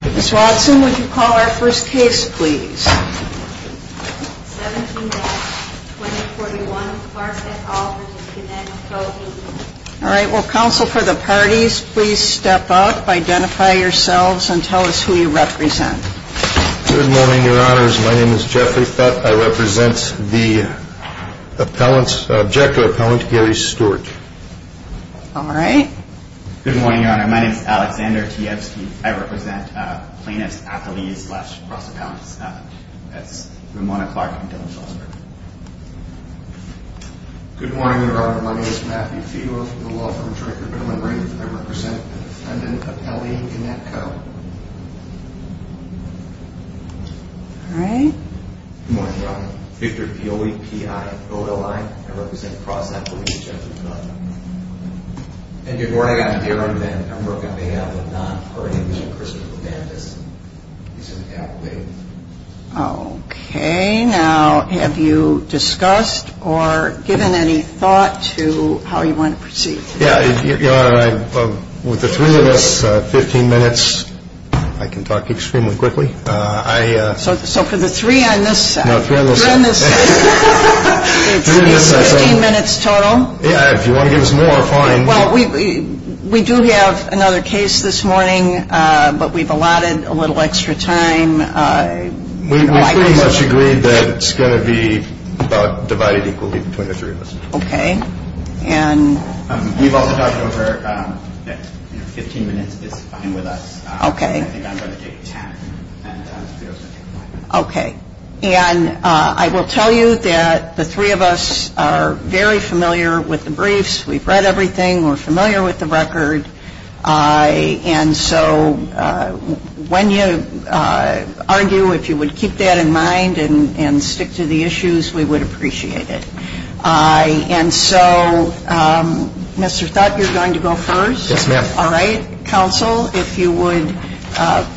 Ms. Raulston, would you call our first case, please? 17-2041 Park, Utah v. Gannett Co. Inc. All right, will counsel for the parties please step up, identify yourselves, and tell us who you represent. Good morning, Your Honors. My name is Jeffrey Fett. I represent the appellant's, objective appellant, Gary Stewart. All right. Good morning, Your Honor. My name is Alexander Kieske. I represent plaintiff's appellee's last process appellant, Ramona Clark. Good morning, Your Honor. My name is Matthew Fields. I'm the law firm's director of delivery. I represent the defendant's appellate, Gannett Co. All right. Good morning, Your Honor. I'm Dr. D. O. E. P. I. I'm the law firm's representative. Thank you. Good morning, Your Honor. My name is Robert Maynard. I'm the attorney for Christopher Gannett. Okay. Now, have you discussed or given any thought to how you want to proceed? Yeah, Your Honor, with the two minutes, 15 minutes, I can talk extremely quickly. So for the three on this side? No, three on this side. Three on this side. Three minutes total? Yeah, if you want to give us more, fine. Well, we do have another case this morning, but we've allotted a little extra time. We pretty much agreed that it's going to be about divided equally between the three of us. Okay. And? We've also talked over that 15 minutes is fine with us. Okay. Okay. And I will tell you that the three of us are very familiar with the briefs. We've read everything. We're familiar with the record. And so when you argue, if you would keep that in mind and stick to the issues, we would appreciate it. And so, Mr. Thot, you're going to go first? Yes, ma'am. All right. Counsel, if you would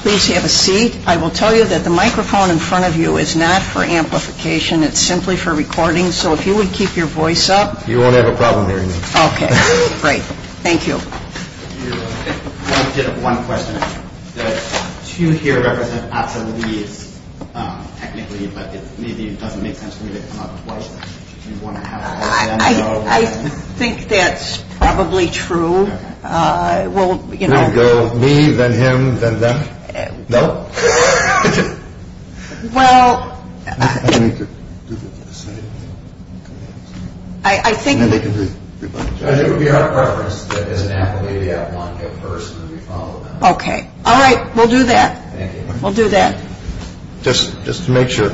please have a seat. I will tell you that the microphone in front of you is not for amplification. It's simply for recording. So if you would keep your voice up. You won't have a problem hearing this. Okay. Great. Thank you. One question. You hear everything optimally, technically, but maybe it doesn't make sense for me to come up with questions. I think that's probably true. Well, you know. Me, then him, then them? No. Well. I need to do this. I think that. I think it would be out of progress if it doesn't happen later. I want to go first and then we follow up. Okay. All right. We'll do that. Thank you. We'll do that. Just to make sure.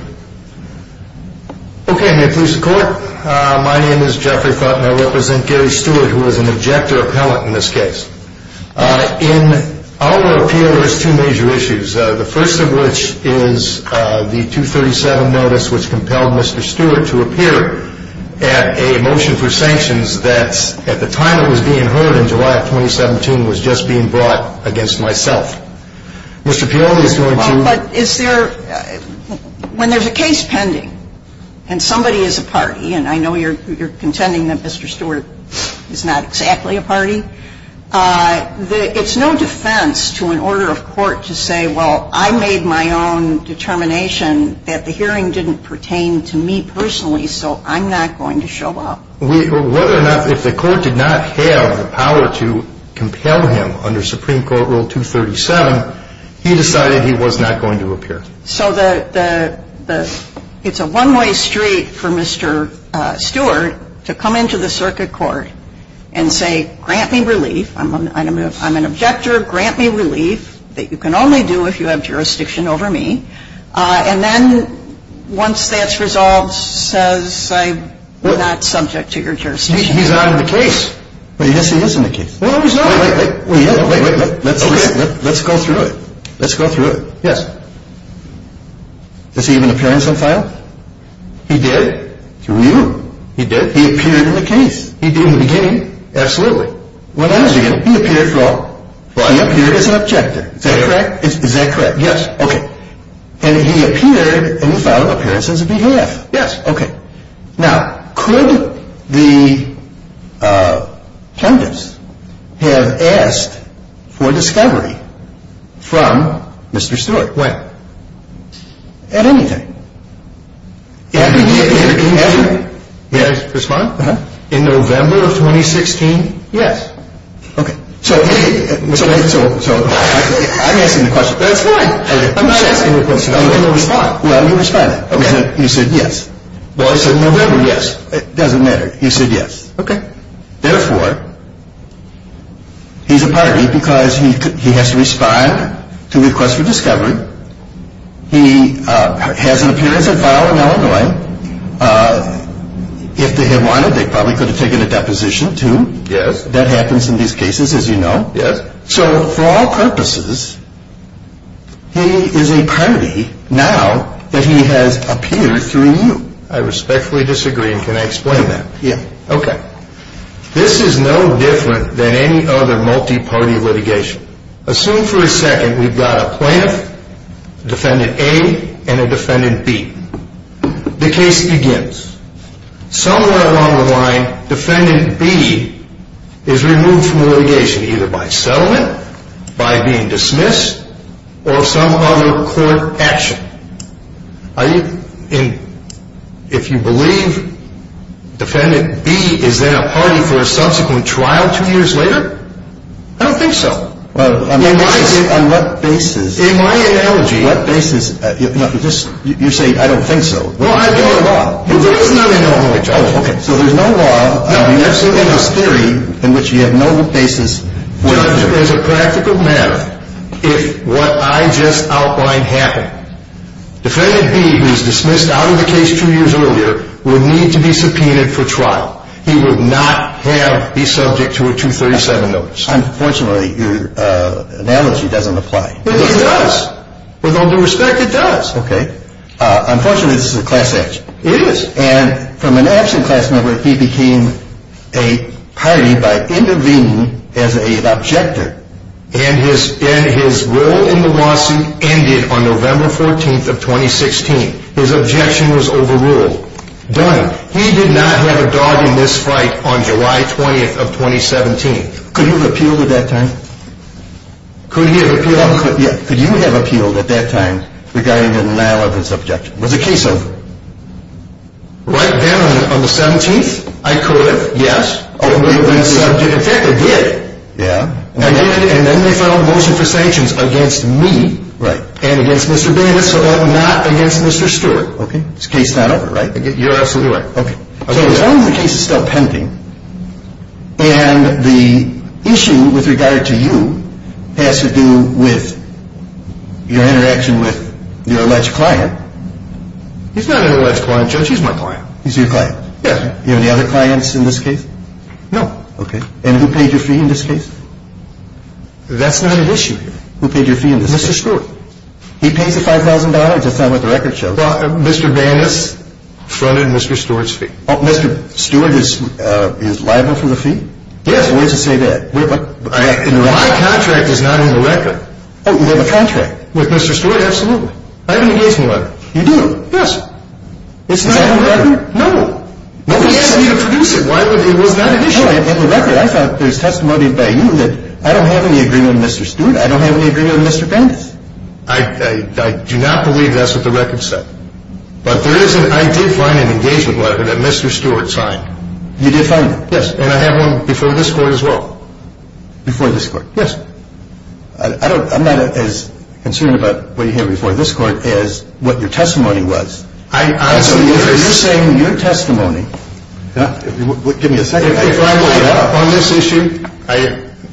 Okay. May it please the Court. My name is Jeffrey Kottner. I represent Gary Stewart, who is an objector appellant in this case. In our appeal, there's two major issues. The first of which is the 237 notice which compelled Mr. Stewart to appear at a motion for sanctions that at the time it was being heard in July of 2017 was just being brought against myself. Mr. Piolla is going to. When there's a case pending and somebody is a party, and I know you're contending that Mr. Stewart is not exactly a party, it's no defense to an order of court to say, well, I made my own determination that the hearing didn't pertain to me personally, so I'm not going to show up. Whether or not if the Court did not fail the power to compel him under Supreme Court Rule 237, he decided he was not going to appear. So it's a one-way street for Mr. Stewart to come into the circuit court and say, grant me relief. I'm an objector. Grant me relief that you can only do if you have jurisdiction over me. And then once that's resolved, says I'm not subject to your jurisdiction. He's out of the case. But he is in the case. No, he's not. Wait a minute. Let's go through it. Let's go through it. Yes. Does he have an appearance on file? He did. Through you? He did. He appeared in the case. He did what he did? Absolutely. What else did he do? He appeared, well, he appeared as an objector. Is that correct? Is that correct? Yes. Okay. And he appeared and he filed an appearance as a DTF. Yes. Okay. Now, could the plaintiffs have asked for discovery from Mr. Stewart? When? At any time. In November? May I respond? In November of 2016? Yes. Okay. So, I'm asking you a question. That's fine. I'm not asking you a question. I'm asking you to respond. Well, I'm going to respond. Okay. He said yes. Well, I said in November, yes. It doesn't matter. He said yes. Okay. Therefore, he's a partner because he has to respond to request for discovery. He has an appearance on file in Illinois. If they had wanted, they probably could have taken a deposition, too. Yes. That happens in these cases, as you know. Yes. So, for all purposes, he is a party now that he has appeared through you. I respectfully disagree. Can I explain that? Yes. Okay. This is no different than any other multi-party litigation. Assume for a second we've got a plaintiff, defendant A, and a defendant B. The case begins. Somewhere along the line, defendant B is removed from litigation either by settlement, by being dismissed, or some other court action. If you believe defendant B is in a party for a subsequent trial two years later, I don't think so. In my analogy, you're saying I don't think so. Well, I don't at all. You really don't at all. Okay. So there's no law. No. I'm absolutely not scaring you in which you have no basis. What I'm doing is a practical matter. It's what I just outlined happening. Defendant B, who was dismissed out of the case two years earlier, will need to be subpoenaed for trial. He would not have to be subject to a 237 notice. Unfortunately, your analogy doesn't apply. It does. With all due respect, it does. Okay. Unfortunately, this is a class act. It is. And from an absent testimony, he became a party by intervening as an objector. And his role in the lawsuit ended on November 14th of 2016. His objection was overruled. Done. He did not have a dog in this fight on July 20th of 2017. Could he have appealed at that time? Could he have appealed? Could you have appealed at that time regarding an analogous objection? Was the case over? Right there on the 17th, I could have. Yes. I could have. I did. Yeah. I did. And then they filed motion for sanctions against me. Right. And against Mr. Baker so that I'm not against Mr. Stewart. Okay. It's a case not over, right? You're absolutely right. Okay. And the issue with regard to you has to do with your interaction with your alleged client. He's not an alleged client, Judge. He's my client. He's your client. Yes. Do you have any other clients in this case? No. Okay. And who paid your fee in this case? That's not an issue here. Who paid your fee in this case? Mr. Stewart. He paid the $5,000 to film at the record show. Mr. Vaness fronted Mr. Stewart's fee. Oh, Mr. Stewart is liable for the fee? Yes. Why does it say that? The contract is not in the record. Oh, it was in the contract? With Mr. Stewart? Absolutely. I didn't give him the money. You didn't? Yes. It's not in the record? No. Then he has to be a producer. Why would he not be a producer? No, it's in the record. I thought there was testimony by you in it. I don't have any agreement with Mr. Stewart. I don't have any agreement with Mr. Vaness. I do not believe that's what the record says. But I did find an engagement letter that Mr. Stewart signed. You did find it? Yes. And I have one before this court as well. Before this court? Yes. I'm not as concerned about what you have before this court as what your testimony was. I don't care. Are you saying your testimony... Give me a second. On this issue,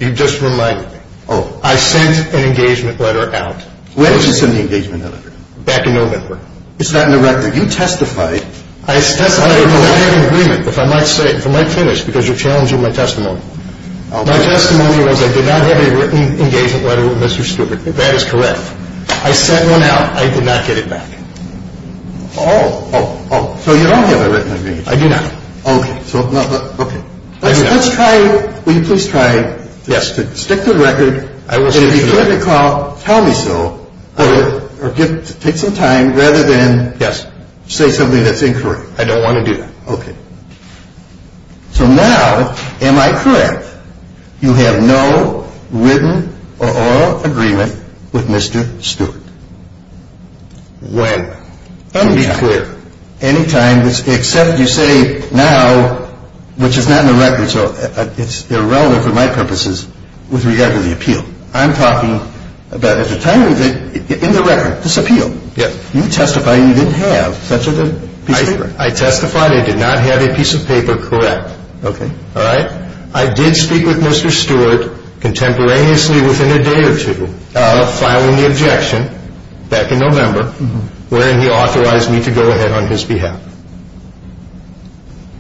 you just reminded me. Oh. I sent an engagement letter out. When did you send the engagement letter? Back in November. It's not in the record. You testified... I have an agreement, which I might finish because you're challenging my testimony. My testimony was I did not have a written engagement letter with Mr. Stewart. That is correct. I sent one out. I did not get it back. Oh. Oh. So you don't have a written agreement. I do not. Okay. Let's try it. Will you please try it? Yes. Stick to the record. I will stick to the record. If you get a call, tell me so. Okay. Take some time rather than... Yes. Say something that's incorrect. I don't want to do that. Okay. You have no written or oral agreement with Mr. Stewart. Well, let me be clear. Anytime, except you say now, which is not in the record, so it's irrelevant for my purposes with regard to the appeal. I'm talking about at the time in the record, this appeal. Yes. You testified you didn't have such a piece of paper. I testified I did not have a piece of paper. Correct. Okay. All right? All right. Back in November, when he authorized me to go ahead on his behalf.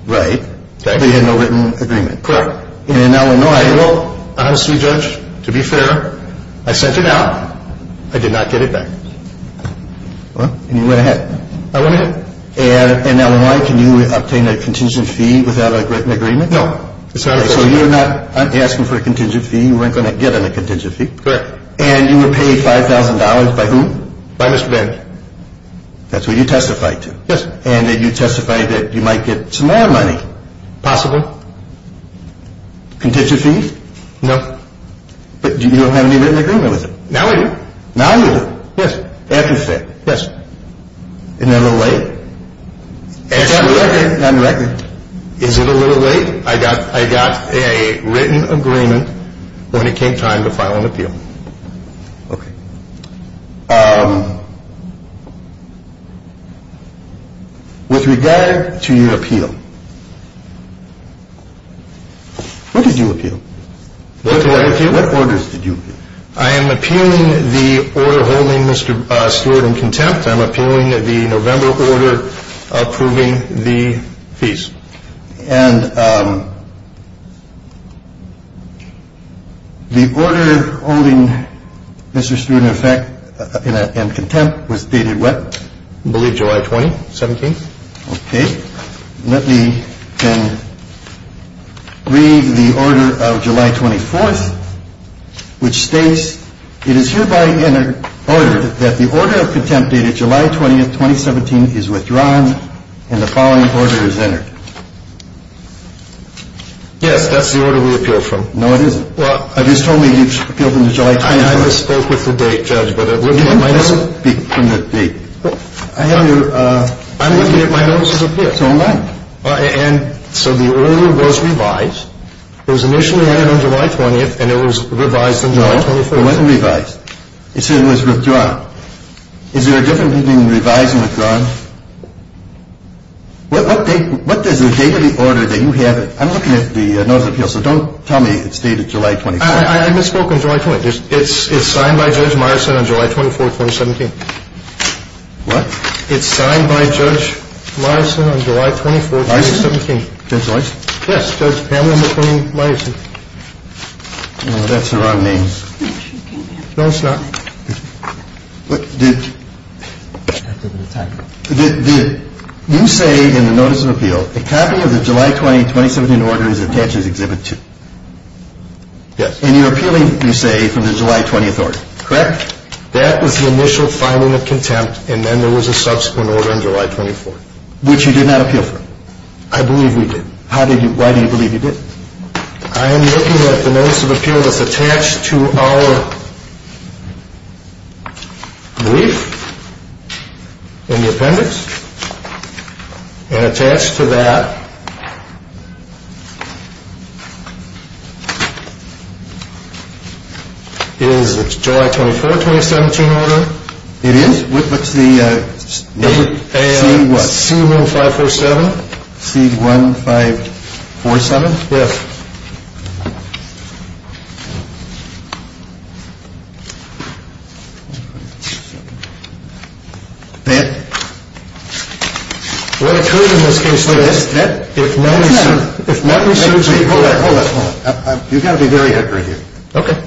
Right. Exactly. He had no written agreement. Correct. In Illinois, well, honestly, Judge, to be fair, I sent it out. I did not get it back. What? And you went ahead. I went ahead. And in Illinois, can you obtain a contingent fee without a written agreement? No. So you're not asking for a contingent fee. You weren't going to get a contingent fee. Correct. And you were paid $5,000 by whom? By Mr. Vance. That's who you testified to. Yes. And you testified that you might get some more money. Possible. Contingent fees? No. But you don't have any written agreement with him. Now I do. Now I do. Yes. After the fact. Yes. In Illinois? In Illinois. In Illinois. Is it a little late? I got a written agreement when it came time to file an appeal. Okay. With regard to your appeal, what did you appeal? What did I appeal? What orders did you appeal? I am appealing the order holding Mr. Stewart in contempt. I'm appealing the November order approving the fees. And the order holding Mr. Stewart in contempt was dated what? I believe July 20th, 2017. Okay. Let me read the order of July 24th, which states, It is hereby entered that the order of contempt dated July 20th, 2017 is withdrawn, and the following order is entered. Yes, that's the order we appealed from. No, it isn't. Well, you told me you appealed in the July 20th. I spoke with the date, Judge, but it wasn't from that date. I'm going to get my notices of this. And so the order was revised. It was initially entered on July 20th, and it was revised on July 24th. No, it wasn't revised. It was withdrawn. Is there a difference between revised and withdrawn? What date of the order did you have? I'm looking at the notice of appeal, so don't tell me it's dated July 24th. I misspoke on July 24th. It's signed by Judge Morrison on July 24th, 2017. What? It's signed by Judge Morrison on July 24th, 2017. Morrison? Judge Morrison? Yes, Judge Pamela McClain-Langston. That's not on me. No, it's not. Did you say in the notice of appeal, a copy of the July 20, 2017 order is attached as Exhibit 2? Yes. And you're appealing, you say, from the July 24th, correct? That was the initial filing of contempt, and then there was a subsequent order on July 24th. Which you did not appeal from? I believe we did. Why do you believe you didn't? I am looking at the notice of appeal that's attached to our brief and the appendix, and attached to that is the July 24, 2017 order. It is? What's the name? C-1547. C-1547? Yes. Matt? We're accusing this case of this, Matt. If nothing serves me right. Hold on, hold on. You've got to be very accurate here. Okay.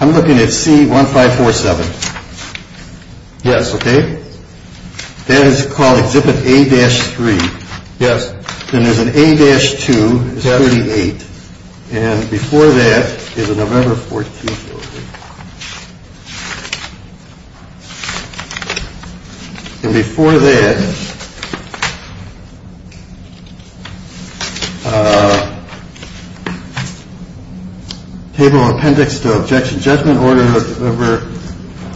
I'm looking at C-1547. Yes, okay? That is called Exhibit A-3. Yes. And there's an A-2, 78. And before that is a November 14th order. And before that, Table of Appendix, Objection, Judgment Order of November.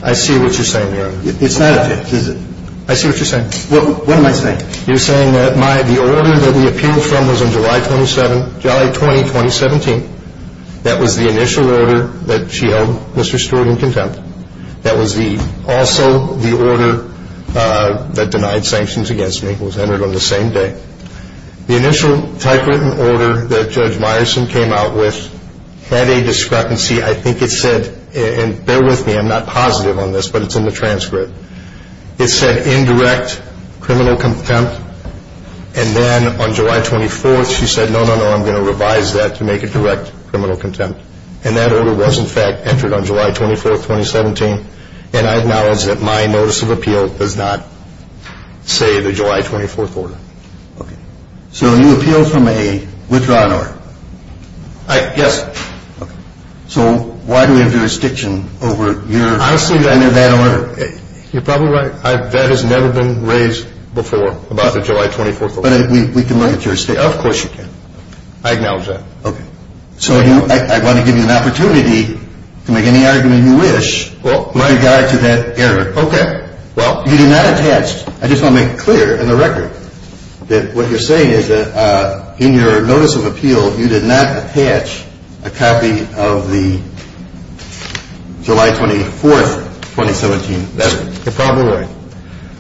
I see what you're saying there. I see what you're saying. What am I saying? You're saying that the order that we appealed from was on July 20, 2017. That was the initial order that she held Mr. Stewart in contempt. That was also the order that denied sanctions against me. It was entered on the same day. The initial typewritten order that Judge Myerson came out with had a discrepancy. I think it said, and bear with me, I'm not positive on this, but it's in the transcript. It said indirect criminal contempt. And then on July 24th, she said, no, no, no, I'm going to revise that to make it direct criminal contempt. And that order was, in fact, entered on July 24th, 2017. And I acknowledge that my notice of appeal does not say the July 24th order. So you appealed from a withdrawing order? Yes. So why do you have jurisdiction over your? Honestly, I knew that order. That has never been raised before about the July 24th order. But we can make your statement. Of course you can. I acknowledge that. Okay. So I want to give you an opportunity to make any argument you wish. Well, what do you got to that error? Okay. Well, you did not attach. I just want to make it clear in the record that what you're saying is that in your notice of appeal, you did not attach a copy of the July 24th, 2017 letter. You're probably right.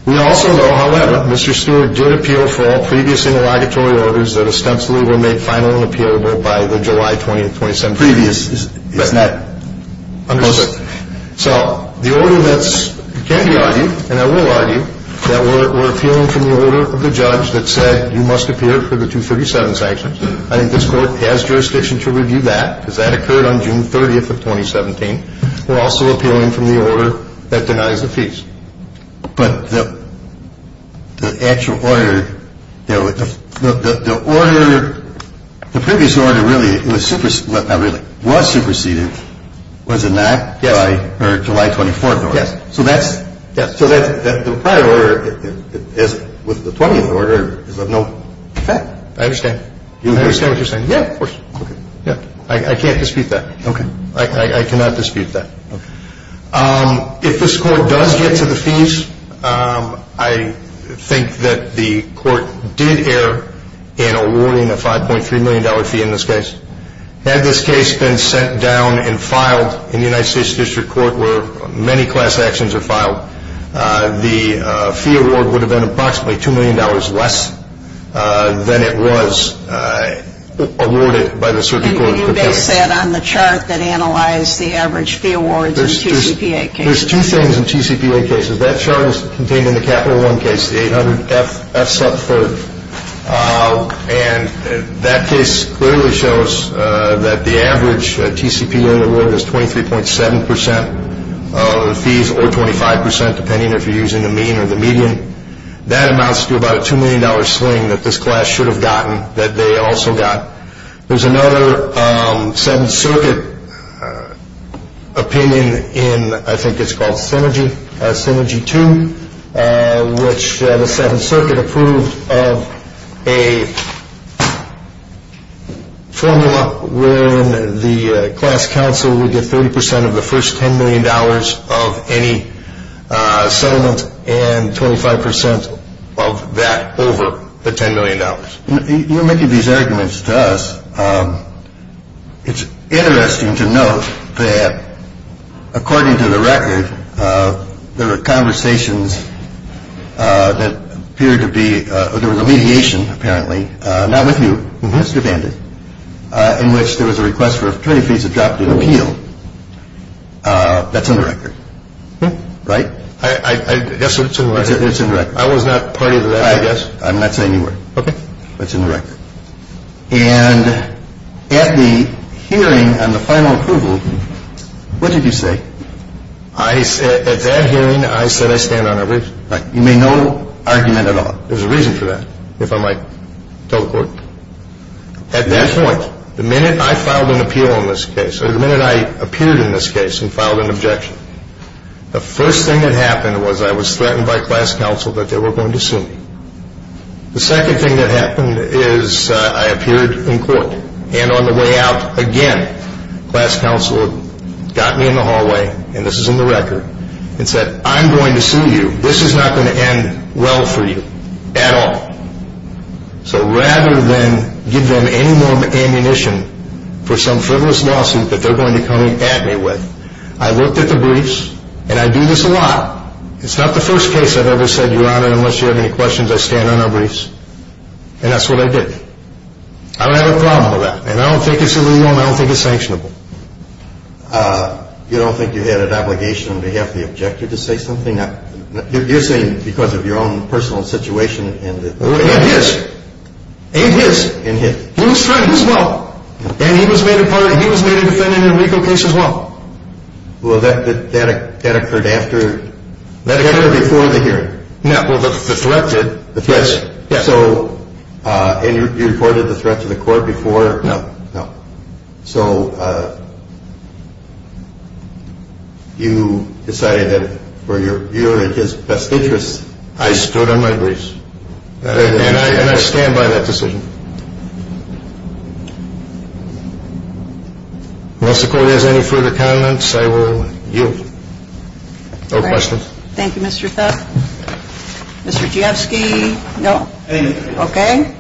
We also know, however, Mr. Stewart did appeal for all previous interlocutory orders that ostensibly were made final and appealable by the July 20th, 2017. Previous is that matter? I'm just saying. So the order that's can be argued, and I will argue, that we're appealing from the order of the judge that said you must appeal for the 237 sanctions. I think it's fair to ask jurisdiction to review that because that occurred on June 30th of 2017. We're also appealing from the order that denies the fees. But the actual order, the previous order really was superseded. Was it not? Yeah. July 24th. Yeah. So the prior order was the 20th order. I understand. I understand what you're saying. Yeah, of course. I can't dispute that. Okay. I cannot dispute that. Okay. If this court does get to the fees, I think that the court did err in awarding a $5.3 million fee in this case. Had this case been sent down and filed in the United States District Court where many class actions are filed, the fee award would have been approximately $2 million less than it was awarded by the circuit court. You base that on the chart that analyzed the average fee awards in TCPA cases. There's two things in TCPA cases. That chart is contained in the Capital One case, the 800F sub-third. And that case clearly shows that the average TCPA award is 23.7% of the fees or 25% depending if you're using the mean or the median. That amounts to about a $2 million sling that this class should have gotten that they also got. There's another Seventh Circuit opinion in, I think it's called Synergy 2, which the Seventh Circuit approved of a formula where the class council would get 30% of the first $10 million of any settlement and 25% of that over the $10 million. You're making these arguments to us. It's interesting to note that according to the record, there were conversations that appeared to be, there was a mediation apparently, not with you, with Mr. Bender, in which there was a request for a period fee to drop the appeal. That's in the record, right? I guess so. It's in the record. I was not part of that. I guess. I'm not saying you were. Okay. That's in the record. And at the hearing on the final approval, what did you say? At that hearing, I said I stand on average. You made no argument at all. There's a reason for that, if I might tell the court. At that point, the minute I filed an appeal in this case, or the minute I appeared in this case and filed an objection, the first thing that happened was I was threatened by class counsel that they were going to sue me. The second thing that happened is I appeared in court. And on the way out, again, class counsel got me in the hallway, and this is in the record, and said, I'm going to sue you. This is not going to end well for you at all. So rather than give them any more ammunition for some frivolous lawsuit that they're going to come at me with, I looked at the briefs, and I do this a lot. It's not the first case I've ever said, Your Honor, unless you have any questions, I stand on our briefs. And that's what I did. I don't have a problem with that. And I don't think it's really wrong. I don't think it's sanctionable. You don't think you had an obligation on behalf of the objector to say something? You're saying because of your own personal situation. It is. It is. He was threatened as well. And he was made a defendant in a legal case as well. Well, that occurred after the hearing. No, the threat did. And you reported the threat to the court before? No. No. So you decided that you're just fastidious. I stood on my briefs. And I stand by that decision. If the court has any further comments, I will yield. No questions. Thank you, Mr. Thup. Mr. Chesky? No. Thank you. Okay.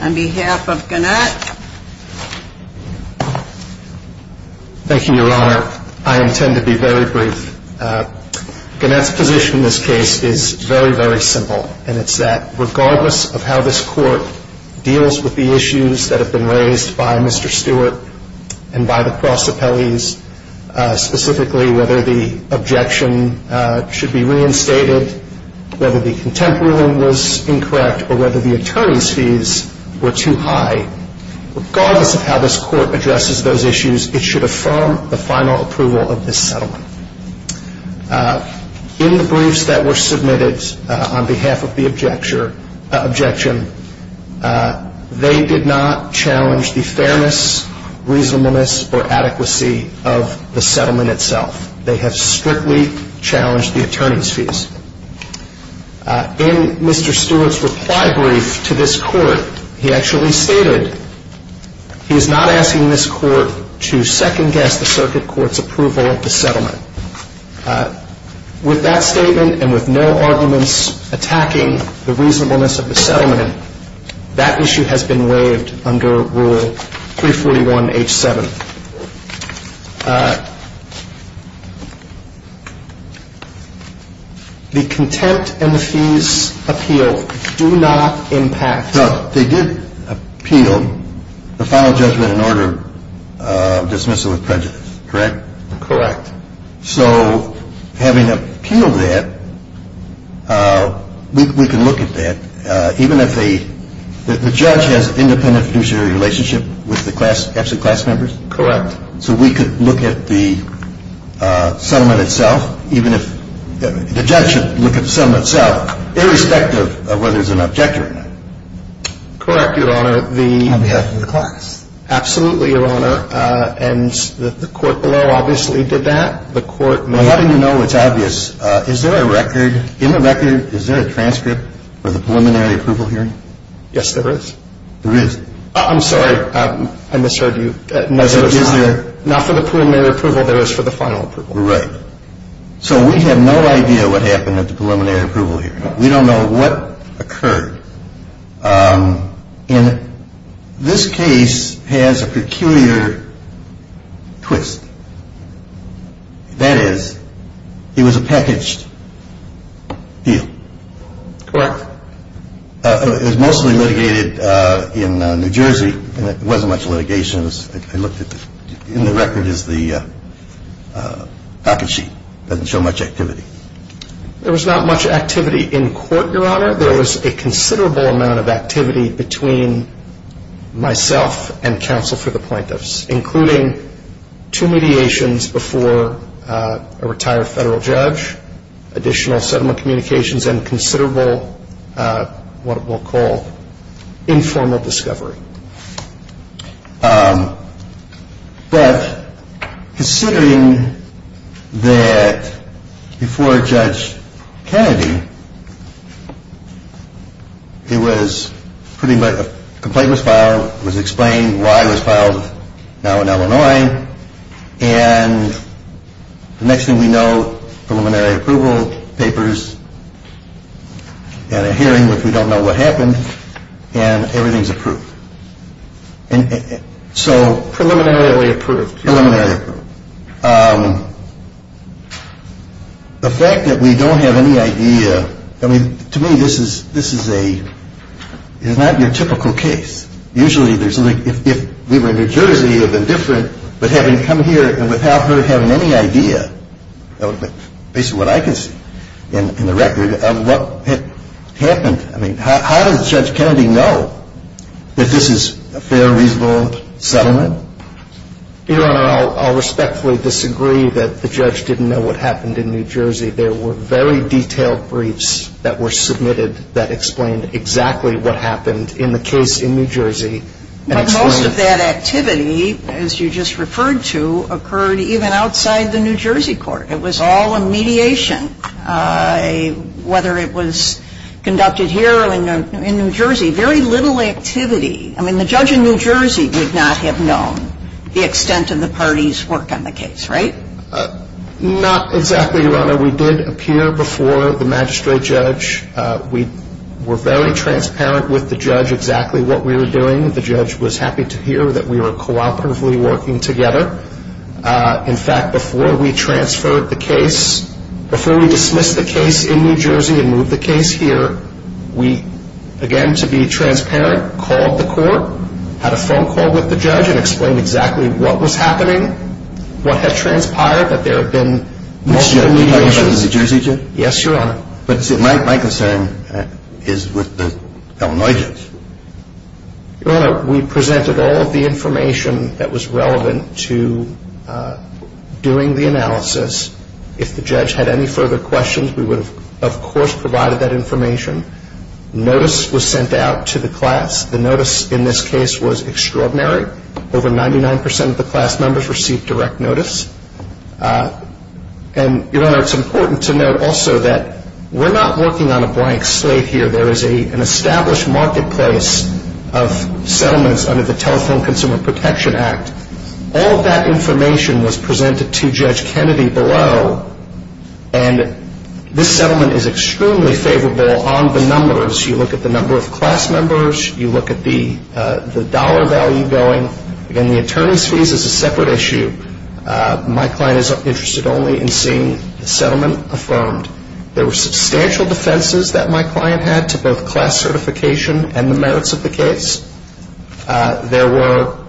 On behalf of Gannett. Thank you, Your Honor. I intend to be very brief. Gannett's position in this case is very, very simple. And it's that regardless of how this court deals with the issues that have been raised by Mr. Stewart and by the prosecutors, specifically whether the objection should be reinstated, whether the contemporary one was incorrect, or whether the attorney's fees were too high, regardless of how this court addresses those issues, it should affirm the final approval of this settlement. In the briefs that were submitted on behalf of the objection, they did not challenge the fairness, reasonableness, or adequacy of the settlement itself. They have strictly challenged the attorney's fees. In Mr. Stewart's reply brief to this court, he actually stated he is not asking this court to second-guess the circuit court's approval of the settlement. With that statement and with no arguments attacking the reasonableness of the settlement, that issue has been waived under Rule 341H7. The contempt and the fees appeal do not impact the settlement. They did appeal the final judgment in order to dismiss it with prejudice, correct? Correct. So having appealed that, we can look at that, even if the judge has an independent fiduciary relationship with the absent class members. Correct. So we could look at the settlement itself, even if the judge should look at the settlement itself, irrespective of whether there's an objection or not. Correct, Your Honor. On behalf of the class. Absolutely, Your Honor. And the court below obviously did that. The court... Well, how do you know it's obvious? Is there a record... In the record, is there a transcript of the preliminary approval hearing? Yes, there is. There is? I'm sorry. I misunderstood you. There is there? Not for the preliminary approval. There is for the final approval. Right. So we have no idea what happened at the preliminary approval hearing. We don't know what occurred. And this case has a peculiar twist. That is, it was a packaged appeal. Correct. It was mostly litigated in New Jersey, and it wasn't much litigation. In the record is the package sheet. It doesn't show much activity. There was not much activity in court, Your Honor. There was a considerable amount of activity between myself and counsel for the plaintiffs, including two mediations before a retired federal judge, additional settlement communications, and considerable what we'll call informal discovery. But considering that before Judge Kennedy, a complaint was filed, it was explained why it was filed now in Illinois, and the next thing we know, preliminary approval papers and a hearing, which we don't know what happened, and everything is approved. So preliminary approval. Preliminary approval. The fact that we don't have any idea, I mean, to me this is not your typical case. Usually if we were in New Jersey, it would be different, but having come here and without her having any idea, based on what I can see in the record of what happened, I mean, how did Judge Kennedy know that this is a fair, reasonable settlement? Your Honor, I'll respectfully disagree that the judge didn't know what happened in New Jersey. There were very detailed briefs that were submitted that explained exactly what happened. But most of that activity, as you just referred to, occurred even outside the New Jersey court. It was all a mediation, whether it was conducted here or in New Jersey. Very little activity. I mean, the judge in New Jersey would not have known the extent of the parties' work on the case, right? Not exactly, Your Honor. We did appear before the magistrate judge. We were very transparent with the judge exactly what we were doing. The judge was happy to hear that we were cooperatively working together. In fact, before we transferred the case, before we dismissed the case in New Jersey and moved the case here, we, again, to be transparent, called the court, had a phone call with the judge and explained exactly what was happening, what had transpired, that there had been multiple violations. Yes, Your Honor. Your Honor, we presented all of the information that was relevant to doing the analysis. If the judge had any further questions, we would have, of course, provided that information. Notice was sent out to the class. The notice in this case was extraordinary. Over 99% of the class members received direct notice. And, Your Honor, it's important to note also that we're not working on a blank slate here. There is an established marketplace of settlements under the Telephone Consumer Protection Act. All of that information was presented to Judge Kennedy below, and this settlement is extremely favorable on the numbers. You look at the number of class members. You look at the dollar value going. Again, the attorney's fees is a separate issue. My client is interested only in seeing the settlement affirmed. There were substantial defenses that my client had to both class certification and the merits of the case. There were,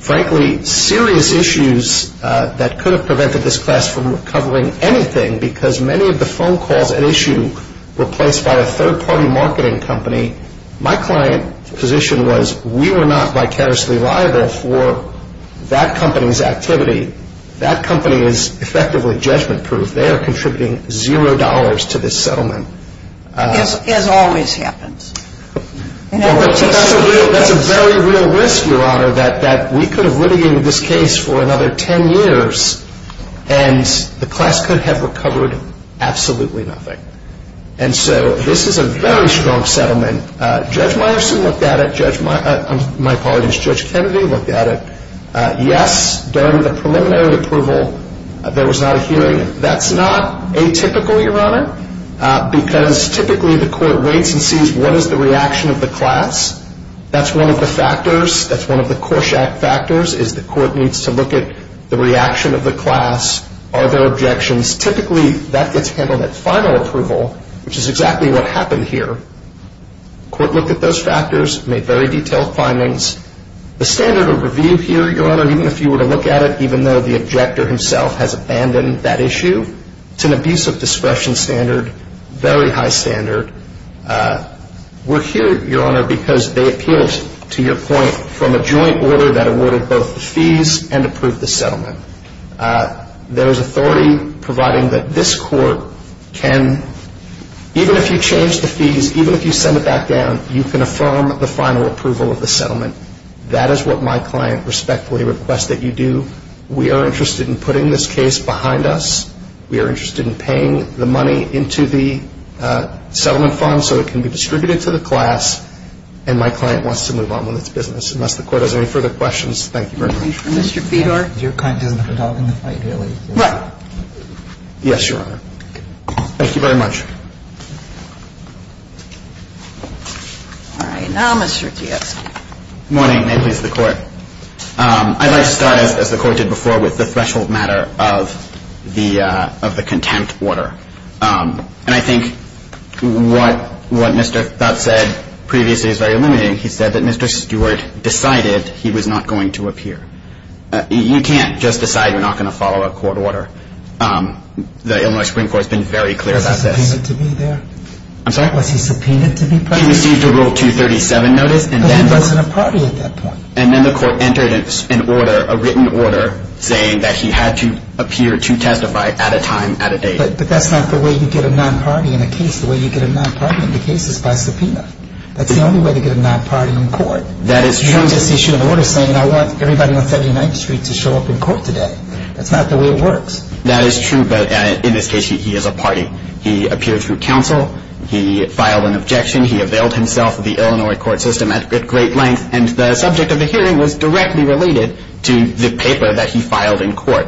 frankly, serious issues that could have prevented this class from recovering anything because many of the phone calls at issue were placed by a third-party marketing company. My client's position was we were not vicariously liable for that company's activity. That company is effectively judgment-proof. They are contributing $0 to this settlement. This, as always, happens. That's a very real risk, Your Honor, that we could have litigated this case for another 10 years, and the class could have recovered absolutely nothing. And so this is a very strong settlement. Judge Myerson looked at it. My apologies. Judge Kennedy looked at it. Yes, there was a preliminary approval. There was not a hearing. That's not atypical, Your Honor, because typically the court waits and sees what is the reaction of the class. That's one of the factors. That's one of the Korshak factors is the court needs to look at the reaction of the class. Are there objections? Typically, that gets handled at final approval, which is exactly what happened here. The court looked at those factors, made very detailed findings. The standards are reviewed here, Your Honor, even if you were to look at it, even though the objector himself has abandoned that issue. It's an abuse of discretion standard, very high standard. We're here, Your Honor, because they appealed, to your point, from a joint order that awarded both the fees and approved the settlement. There is authority providing that this court can, even if you change the fees, even if you send it back down, you can affirm the final approval of the settlement. That is what my client respectfully requests that you do. We are interested in putting this case behind us. We are interested in paying the money into the settlement fund so it can be distributed to the class, and my client wants to move on with its business. Unless the court has any further questions, thank you very much. Thank you, Mr. Fedor. You're kind enough to talk in this way, too. Yes, Your Honor. Thank you very much. All right, now Mr. Diaz. Good morning, and please, the court. I'd like to start, as the court did before, with the threshold matter of the content order. And I think what Mr. Thott said previously is very illuminating. He said that Mr. Stewart decided he was not going to appear. You can't just decide you're not going to follow a court order. The Illinois Supreme Court has been very clear about this. Was he subpoenaed to be there? I'm sorry? Was he subpoenaed to be present? He received a Rule 237 notice. But he wasn't a party at that point. And then the court entered a written order saying that he had to appear to testify at a time, at a date. But that's not the way you get a non-party in a case. The way you get a non-party in a case is by subpoena. That's the only way to get a non-party in court. That is true. You don't just issue an order saying I want everybody on 79th Street to show up in court today. That's not the way it works. That is true, but in this case he is a party. He appeared through counsel. He filed an objection. He availed himself of the Illinois court system at great length. And the subject of the hearing was directly related to the paper that he filed in court.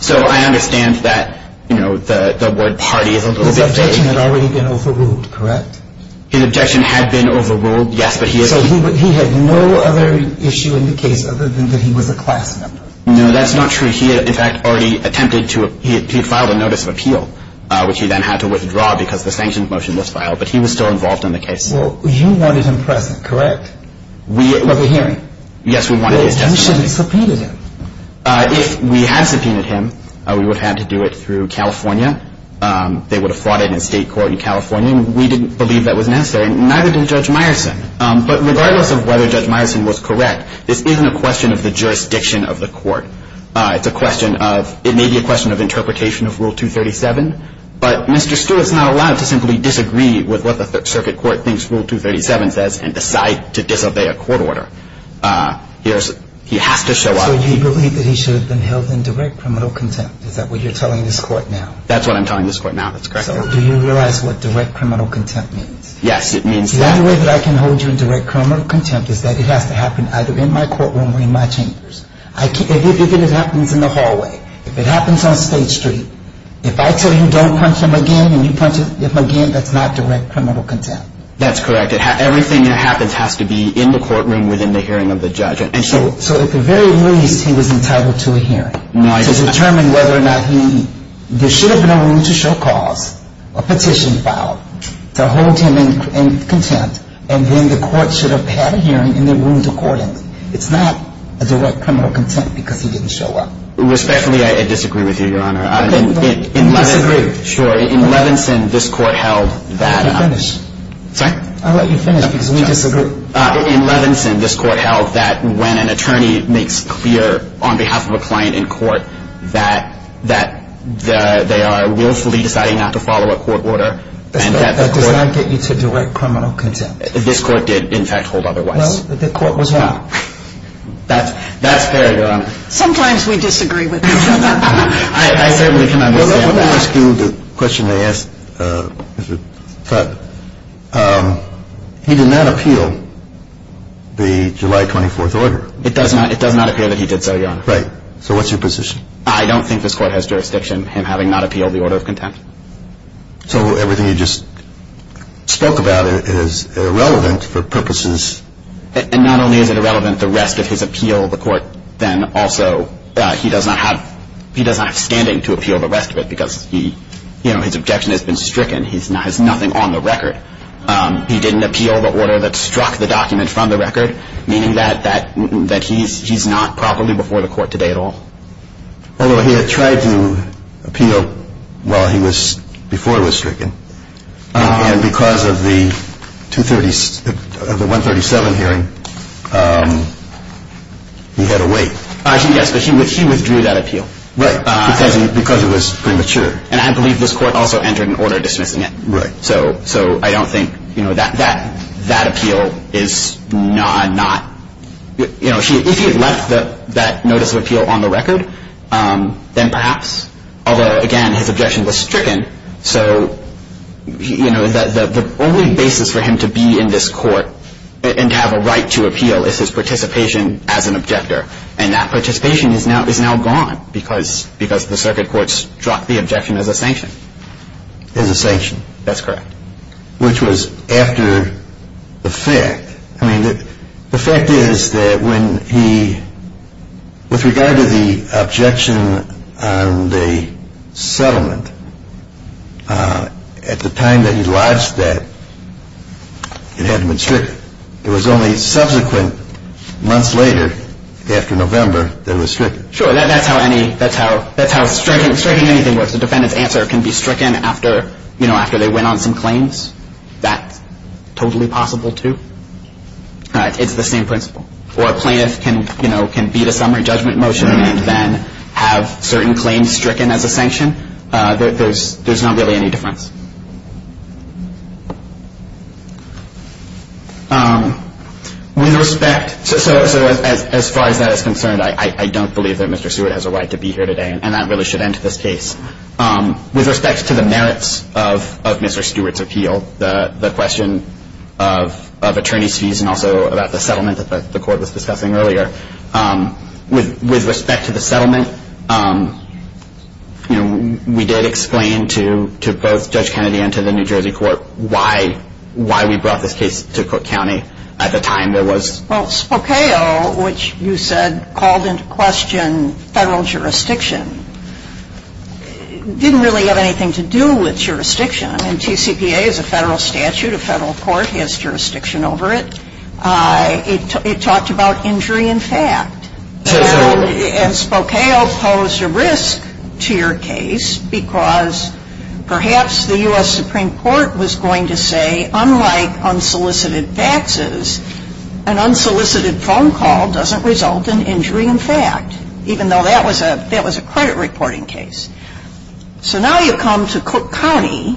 So I understand that, you know, the word party is a little bit vague. The objection had already been overruled, correct? The objection had been overruled, yes. So he had no other issue in the case other than that he was a class member? No, that's not true. He had, in fact, already attempted to file a notice of appeal, which he then had to withdraw because the sanctions motion was filed. But he was still involved in the case. Well, you wanted him present, correct? Of the hearing? Yes, we wanted him present. Well, you should have subpoenaed him. If we had subpoenaed him, we would have had to do it through California. They would have fought it in state court in California. We didn't believe that was necessary, neither did Judge Meyerson. But regardless of whether Judge Meyerson was correct, this isn't a question of the jurisdiction of the court. It's a question of ‑‑ it may be a question of interpretation of Rule 237, but Mr. Stewart is not allowed to simply disagree with what the circuit court thinks Rule 237 says and decide to disobey a court order. He has to show up. But you believe that he should have been held in direct criminal contempt. Is that what you're telling this court now? That's what I'm telling this court now, that's correct. Do you realize what direct criminal contempt means? Yes, it means ‑‑ The only way that I can hold you in direct criminal contempt is that it has to happen either in my courtroom or in my chambers. If it happens in the hallway, if it happens on State Street, if I tell you don't punch him again and you punch him again, that's not direct criminal contempt. That's correct. Everything that happens has to be in the courtroom within the hearing of the judge. So at the very least, he was entitled to a hearing. To determine whether or not he ‑‑ there should have been a room to show cause, a petition filed, to hold him in contempt, and then the court should have had a hearing and then moved the court in. It's not a direct criminal contempt because he didn't show up. Respectfully, I disagree with you, Your Honor. In Levington, this court held that ‑‑ Can you finish? Sorry? I'll let you finish. In Levington, this court held that when an attorney makes clear on behalf of a client in court that they are willfully deciding not to follow a court order. That did not get you to direct criminal contempt. This court did, in fact, hold other witnesses. No, the court was wrong. That's fair, Your Honor. Sometimes we disagree with each other. Let me ask you the question I asked. He did not appeal the July 24th order. It does not appear that he did, Your Honor. Right. So what's your position? I don't think this court has jurisdiction in having not appealed the order of contempt. So everything you just spoke about is irrelevant for purposes ‑‑ And not only is it irrelevant, the rest of his appeal, the court then also, he does not have standing to appeal the rest of it because his objection has been stricken. He has nothing on the record. He didn't appeal the order that struck the document from the record, meaning that he's not properly before the court today at all. Although he had tried to appeal while he was ‑‑ before he was stricken. And because of the 137 hearing, he had to wait. Yes, because he withdrew that appeal. Right. Because it was premature. And I believe this court also entered an order of distrust in it. Right. So I don't think, you know, that appeal is not ‑‑ you know, if he had left that notice of appeal on the record, then perhaps. Although, again, his objection was stricken. So, you know, the only basis for him to be in this court and to have a right to appeal is his participation as an objector. And that participation is now gone because the circuit court struck the objection as a sanction. As a sanction. That's correct. Which was after the fact. I mean, the fact is that when he ‑‑ with regard to the objection on the settlement, at the time that he lodged that, it hadn't been stricken. It was only subsequent, months later, after November, that it was stricken. Sure, that's how any ‑‑ that's how stricken anything was. The defendant's answer can be stricken after, you know, after they went on some claims. That's totally possible, too. It's the same principle. Or a plaintiff can, you know, can beat a summary judgment motion and then have certain claims stricken as a sanction. There's not really any difference. With respect to ‑‑ so as far as that is concerned, I don't believe that Mr. Stewart has a right to be here today. And that really should end this case. With respect to the merits of Mr. Stewart's appeal, the question of attorney's fees and also about the settlement, as the court was discussing earlier, with respect to the settlement, you know, we did explain to both Judge Kennedy and to the New Jersey court why we brought this case to Cook County at the time there was ‑‑ Spokao, which you said called into question federal jurisdiction, didn't really have anything to do with jurisdiction. And TCPA is a federal statute. A federal court has jurisdiction over it. It talked about injury in fact. And Spokao posed a risk to your case because perhaps the U.S. Supreme Court was going to say unlike unsolicited taxes, an unsolicited phone call doesn't result in injury in fact, even though that was a credit reporting case. So now you come to Cook County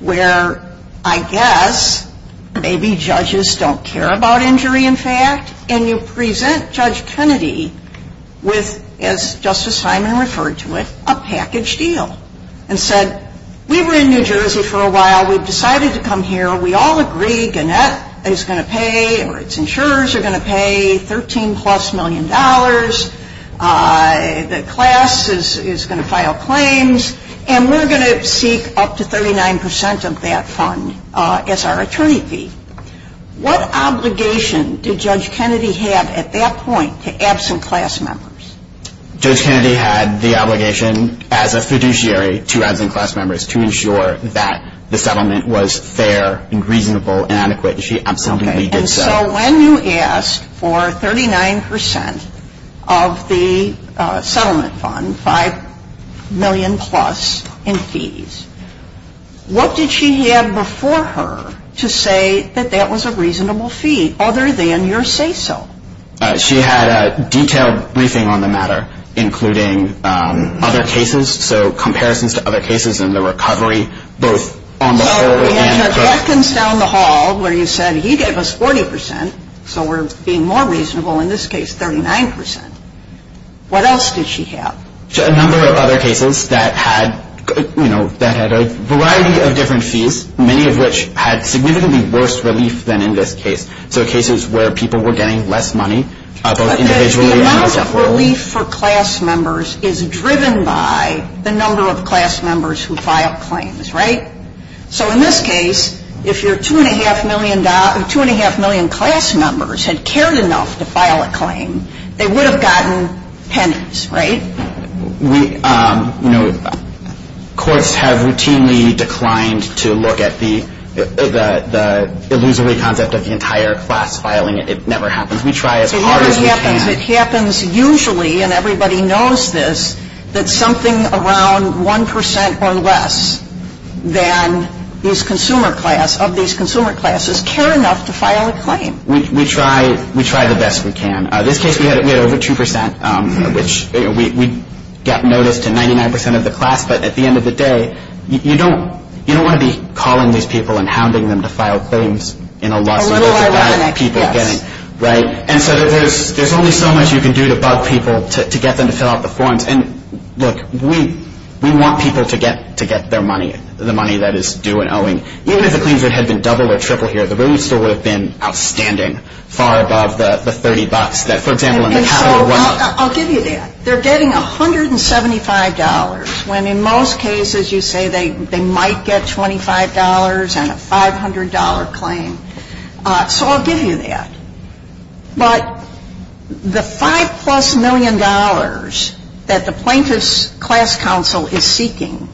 where, I guess, maybe judges don't care about injury in fact, and you present Judge Kennedy with, as Justice Hyman referred to it, a package deal and said we were in New Jersey for a while. We decided to come here. We all agree Gannett is going to pay or its insurers are going to pay 13 plus million dollars. The class is going to file claims. And we're going to seek up to 39% of that fund as our attorney fee. What obligation did Judge Kennedy have at that point to absent class members? Judge Kennedy had the obligation as a fiduciary to absent class members to ensure that the settlement was fair and reasonable and adequate. She absolutely did so. And so when you asked for 39% of the settlement fund, 5 million plus in fees, what did she have before her to say that that was a reasonable fee other than your say so? She had a detailed briefing on the matter including other cases, so comparisons to other cases and the recovery both on the whole. Well, in the sentence down the hall where you said he gave us 40%, so we're being more reasonable, in this case 39%. What else did she have? A number of other cases that had, you know, that had a variety of different fees, many of which had significantly worse relief than in this case. So cases where people were getting less money. The amount of relief for class members is driven by the number of class members who file claims, right? So in this case, if your 2.5 million class members had cared enough to file a claim, they would have gotten pennies, right? You know, courts have routinely declined to look at the illusory contents of the entire class filing. It never happens. We try as hard as we can. It happens usually, and everybody knows this, that something around 1% or less of these consumer classes care enough to file a claim. We try the best we can. In this case, we had over 2%, which we got notice to 99% of the class, but at the end of the day, you don't want to be calling these people and hounding them to file claims in a lot of money. Right? And so there's only so much you can do to bug people to get them to fill out the forms. And look, we want people to get their money, the money that is due and owing. Even if the claims had been double or triple here, the relief still would have been outstanding, far above the $30. I'll give you that. They're getting $175 when in most cases you say they might get $25 and a $500 claim. So I'll give you that. But the five-plus million dollars that the Plaintiff's Class Council is seeking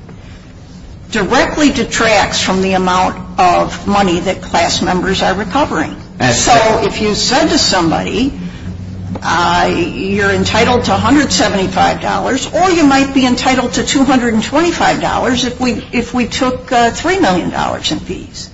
directly detracts from the amount of money that class members are recovering. So if you said to somebody, you're entitled to $175, or you might be entitled to $225 if we took $3 million in fees.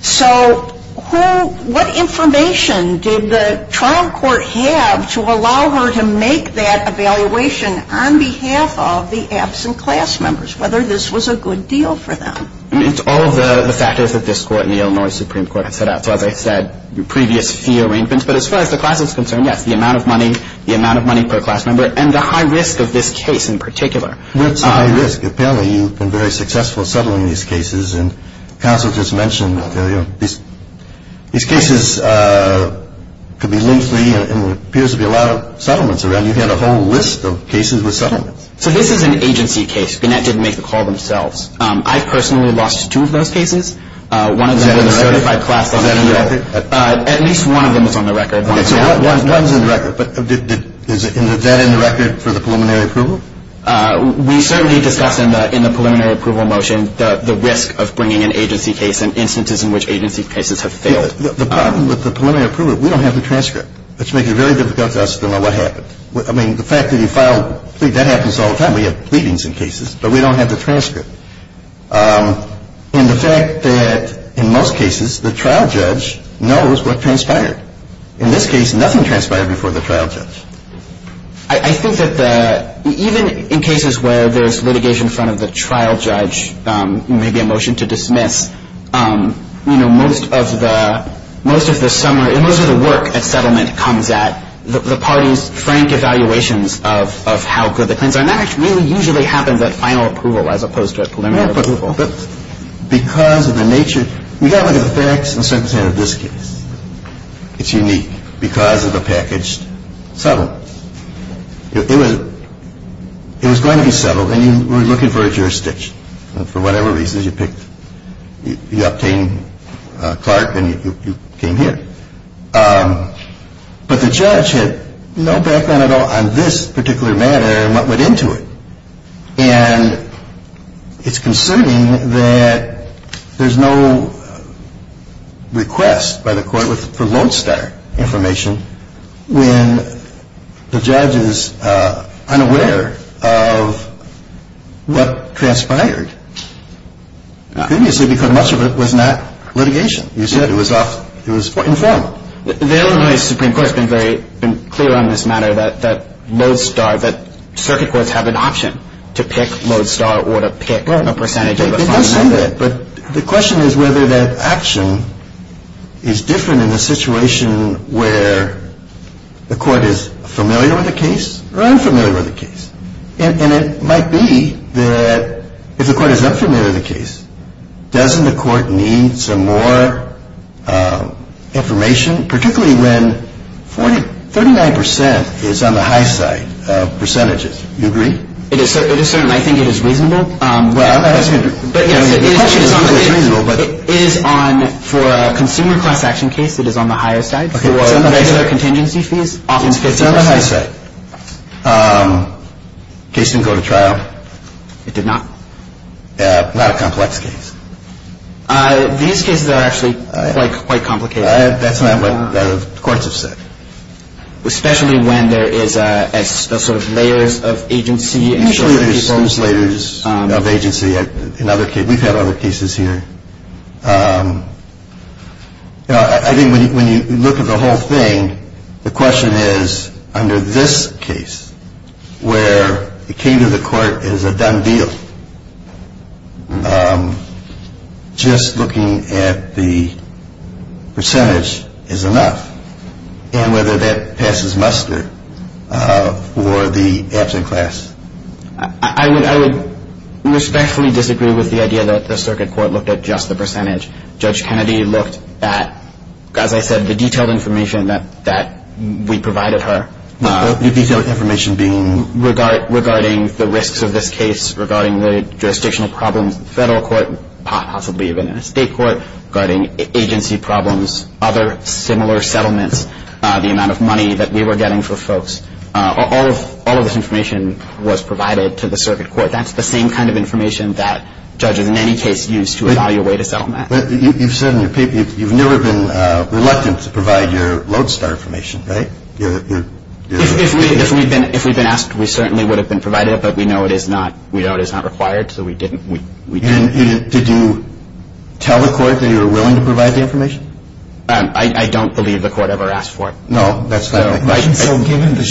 So what information did the trial court have to allow her to make that evaluation on behalf of the absent class members, whether this was a good deal for them? It's all the factors that this court and the Illinois Supreme Court have set up, whether it's the previous fee arraignments, but as far as the class is concerned, yes, the amount of money, the amount of money per class member, and the high risk of this case in particular. That's high risk. Apparently you've been very successful settling these cases, and counsel just mentioned these cases could be link-free, and there appears to be a lot of settlements around. You have a whole list of cases with settlements. So this is an agency case. The Net didn't make the call themselves. I personally lost two of those cases. One of them was notified by a class member. At least one of them is on the record. So one is on the record. Is that on the record for the preliminary approval? We certainly discussed in the preliminary approval motion the risk of bringing in agency cases and instances in which agency cases have failed. The problem with the preliminary approval, we don't have the transcript. It's making it very difficult for us to know what happened. I mean, the fact that you filed, see, that happens all the time. We have pleadings in cases, but we don't have the transcript. And the fact that, in most cases, the trial judge knows what transpired. In this case, nothing transpired before the trial judge. I think that even in cases where there's litigation in front of the trial judge, maybe a motion to dismiss, you know, most of the summary, most of the work at settlement comes at the parties' framed evaluations of how good the prints are. And that really usually happens at final approval as opposed to a preliminary approval. But because of the nature, we don't have the facts in this case. It's unique because of the package. So if it was going to be settled and you were looking for a jurisdiction, for whatever reason, you picked, you obtained Clark and you came here. But the judge had no background at all on this particular matter and what went into it. And it's concerning that there's no request by the court that promotes that information when the judge is unaware of what transpired previously because much of it was not litigation. You said it was off. It was informal. The Illinois Supreme Court has been very clear on this matter that mode star, that circuit courts have an option to pick mode star or to pick a percentage of it. But the question is whether that action is different in a situation where the court is familiar with the case or unfamiliar with the case. And it might be that if the court is unfamiliar with the case, doesn't the court need some more information, particularly when 39% is on the high side of percentages? Do you agree? It is certain. I think it is reasonable. Well, I don't think it's reasonable. It is on, for a consumer cross-action case, it is on the higher side. Okay. Contingency fees. It's on the high side. Case didn't go to trial. It did not. A lot of complexities. These cases are actually quite complicated. That's not what the courts have said. Especially when there is the sort of layers of agency. Usually there are some layers of agency. We've had other cases here. I think when you look at the whole thing, the question is, under this case, where it came to the court as a done deal, just looking at the percentage is enough. And whether that passes muster for the action class. I would respectfully disagree with the idea that the circuit court looked at just the percentage. Judge Kennedy looked at, as I said, the detailed information that we provided her. The detailed information being? Regarding the risks of this case, regarding the jurisdictional problems in the federal court, possibly even in the state court, regarding agency problems, other similar settlements, the amount of money that we were getting for folks. All of this information was provided to the circuit court. That's the same kind of information that judges in any case use to evaluate a settlement. You've never been reluctant to provide your lodestar information, right? If we'd been asked, we certainly would have been provided, but we know it is not required, so we didn't. Did you tell the court that you were willing to provide the information? I don't believe the court ever asked for it. No, that's not my question. My question is, though, given the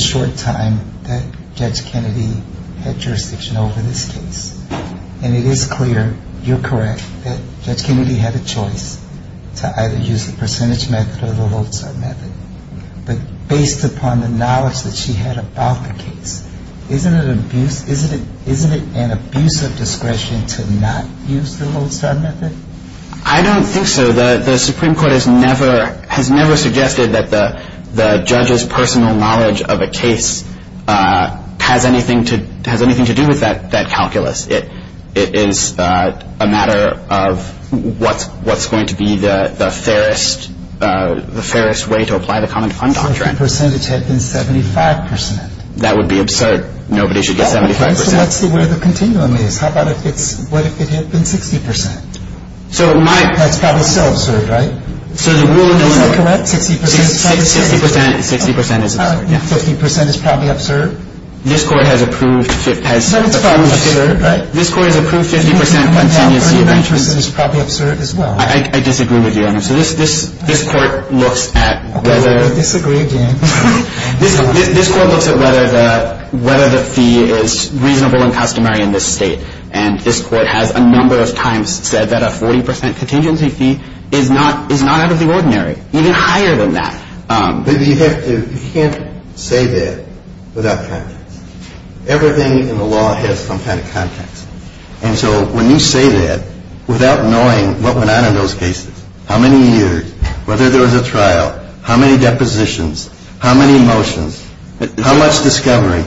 short time that Judge Kennedy had jurisdictional in this case, and it is clear, you're correct, that Judge Kennedy had a choice to either use the percentage method or the lodestar method, but based upon the knowledge that she had about the case, isn't it an abuse of discretion to not use the lodestar method? I don't think so. The Supreme Court has never suggested that the judge's personal knowledge of a case has anything to do with that calculus. It is a matter of what's going to be the fairest way to apply the common fund doctrine. The percentage has been 75 percent. That would be absurd. Nobody should get 75 percent. Let's see what the continuum is. What if it had been 60 percent? That's still absurd, right? 50 percent is not. 50 percent is probably absurd. No, it's probably absurd, right? 50 percent is probably absurd as well. I disagree with you on this. I disagree again. This court looks at whether the fee is reasonable and customary in this state, and this court has a number of times said that a 40 percent continuity fee is not out of the ordinary, even higher than that. You can't say that without context. Everything in the law has some kind of context, and so when you say that without knowing what went on in those cases, how many years, whether there was a trial, how many depositions, how many motions, how much discovery,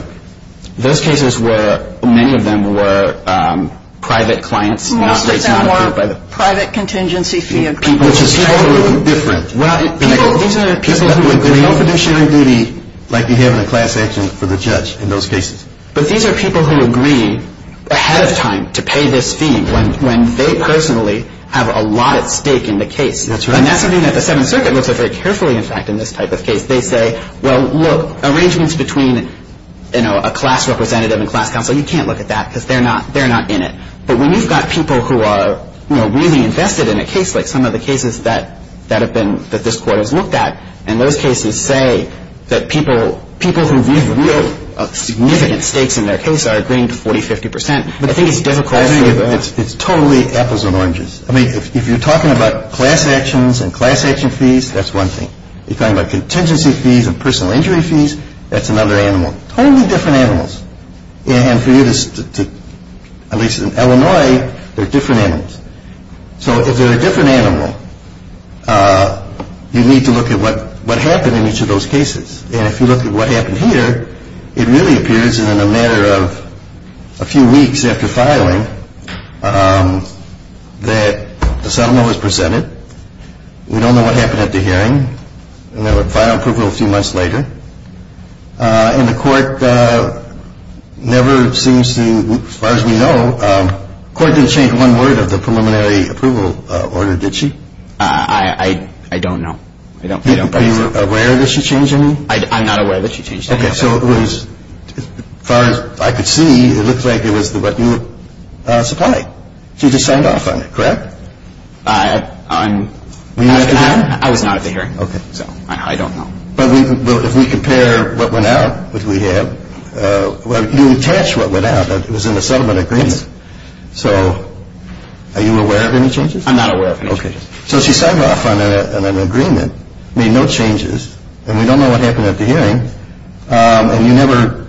those cases were, many of them were private clients. Most of them were private contingency fees. Which is totally different. These are people who have no conventional duty, like you have in a class answer for the judge in those cases. But these are people who agree ahead of time to pay this fee when they personally have a lot at stake in the case. That's right. And that's something that the Seventh Circuit looks at very carefully, in fact, in this type of case. They say, well, look, arrangements between a class representative and class counsel, you can't look at that because they're not in it. But when you've got people who are really invested in a case, like some of the cases that have been, that this court has looked at, and those cases say that people who really have significant stakes in their case are agreeing to 40, 50 percent. The thing is, it's difficult. It's totally, it's apples and oranges. I mean, if you're talking about class actions and class action fees, that's one thing. If you're talking about contingency fees and personal injury fees, that's another animal. Totally different animals. And for you to, at least in Illinois, they're different animals. So if they're a different animal, you need to look at what happened in each of those cases. And if you look at what happened here, it really appears in a matter of a few weeks after filing that the settlement was presented. We don't know what happened at the hearing. The file took a few months later. And the court never seems to, as far as we know, the court didn't change one word of the preliminary approval order, did she? I don't know. Are you aware that she changed anything? I'm not aware that she changed anything. Okay, so it was, as far as I could see, it looked like it was the revenue supply. She just signed off on it, correct? I would not have figured. Okay, so I don't know. But if we compare what went out that we had, well, if you catch what went out, it was in the settlement agreement. So are you aware of any changes? I'm not aware of any changes. Okay, so she signed off on an agreement. I mean, no changes. And we don't know what happened at the hearing. And you never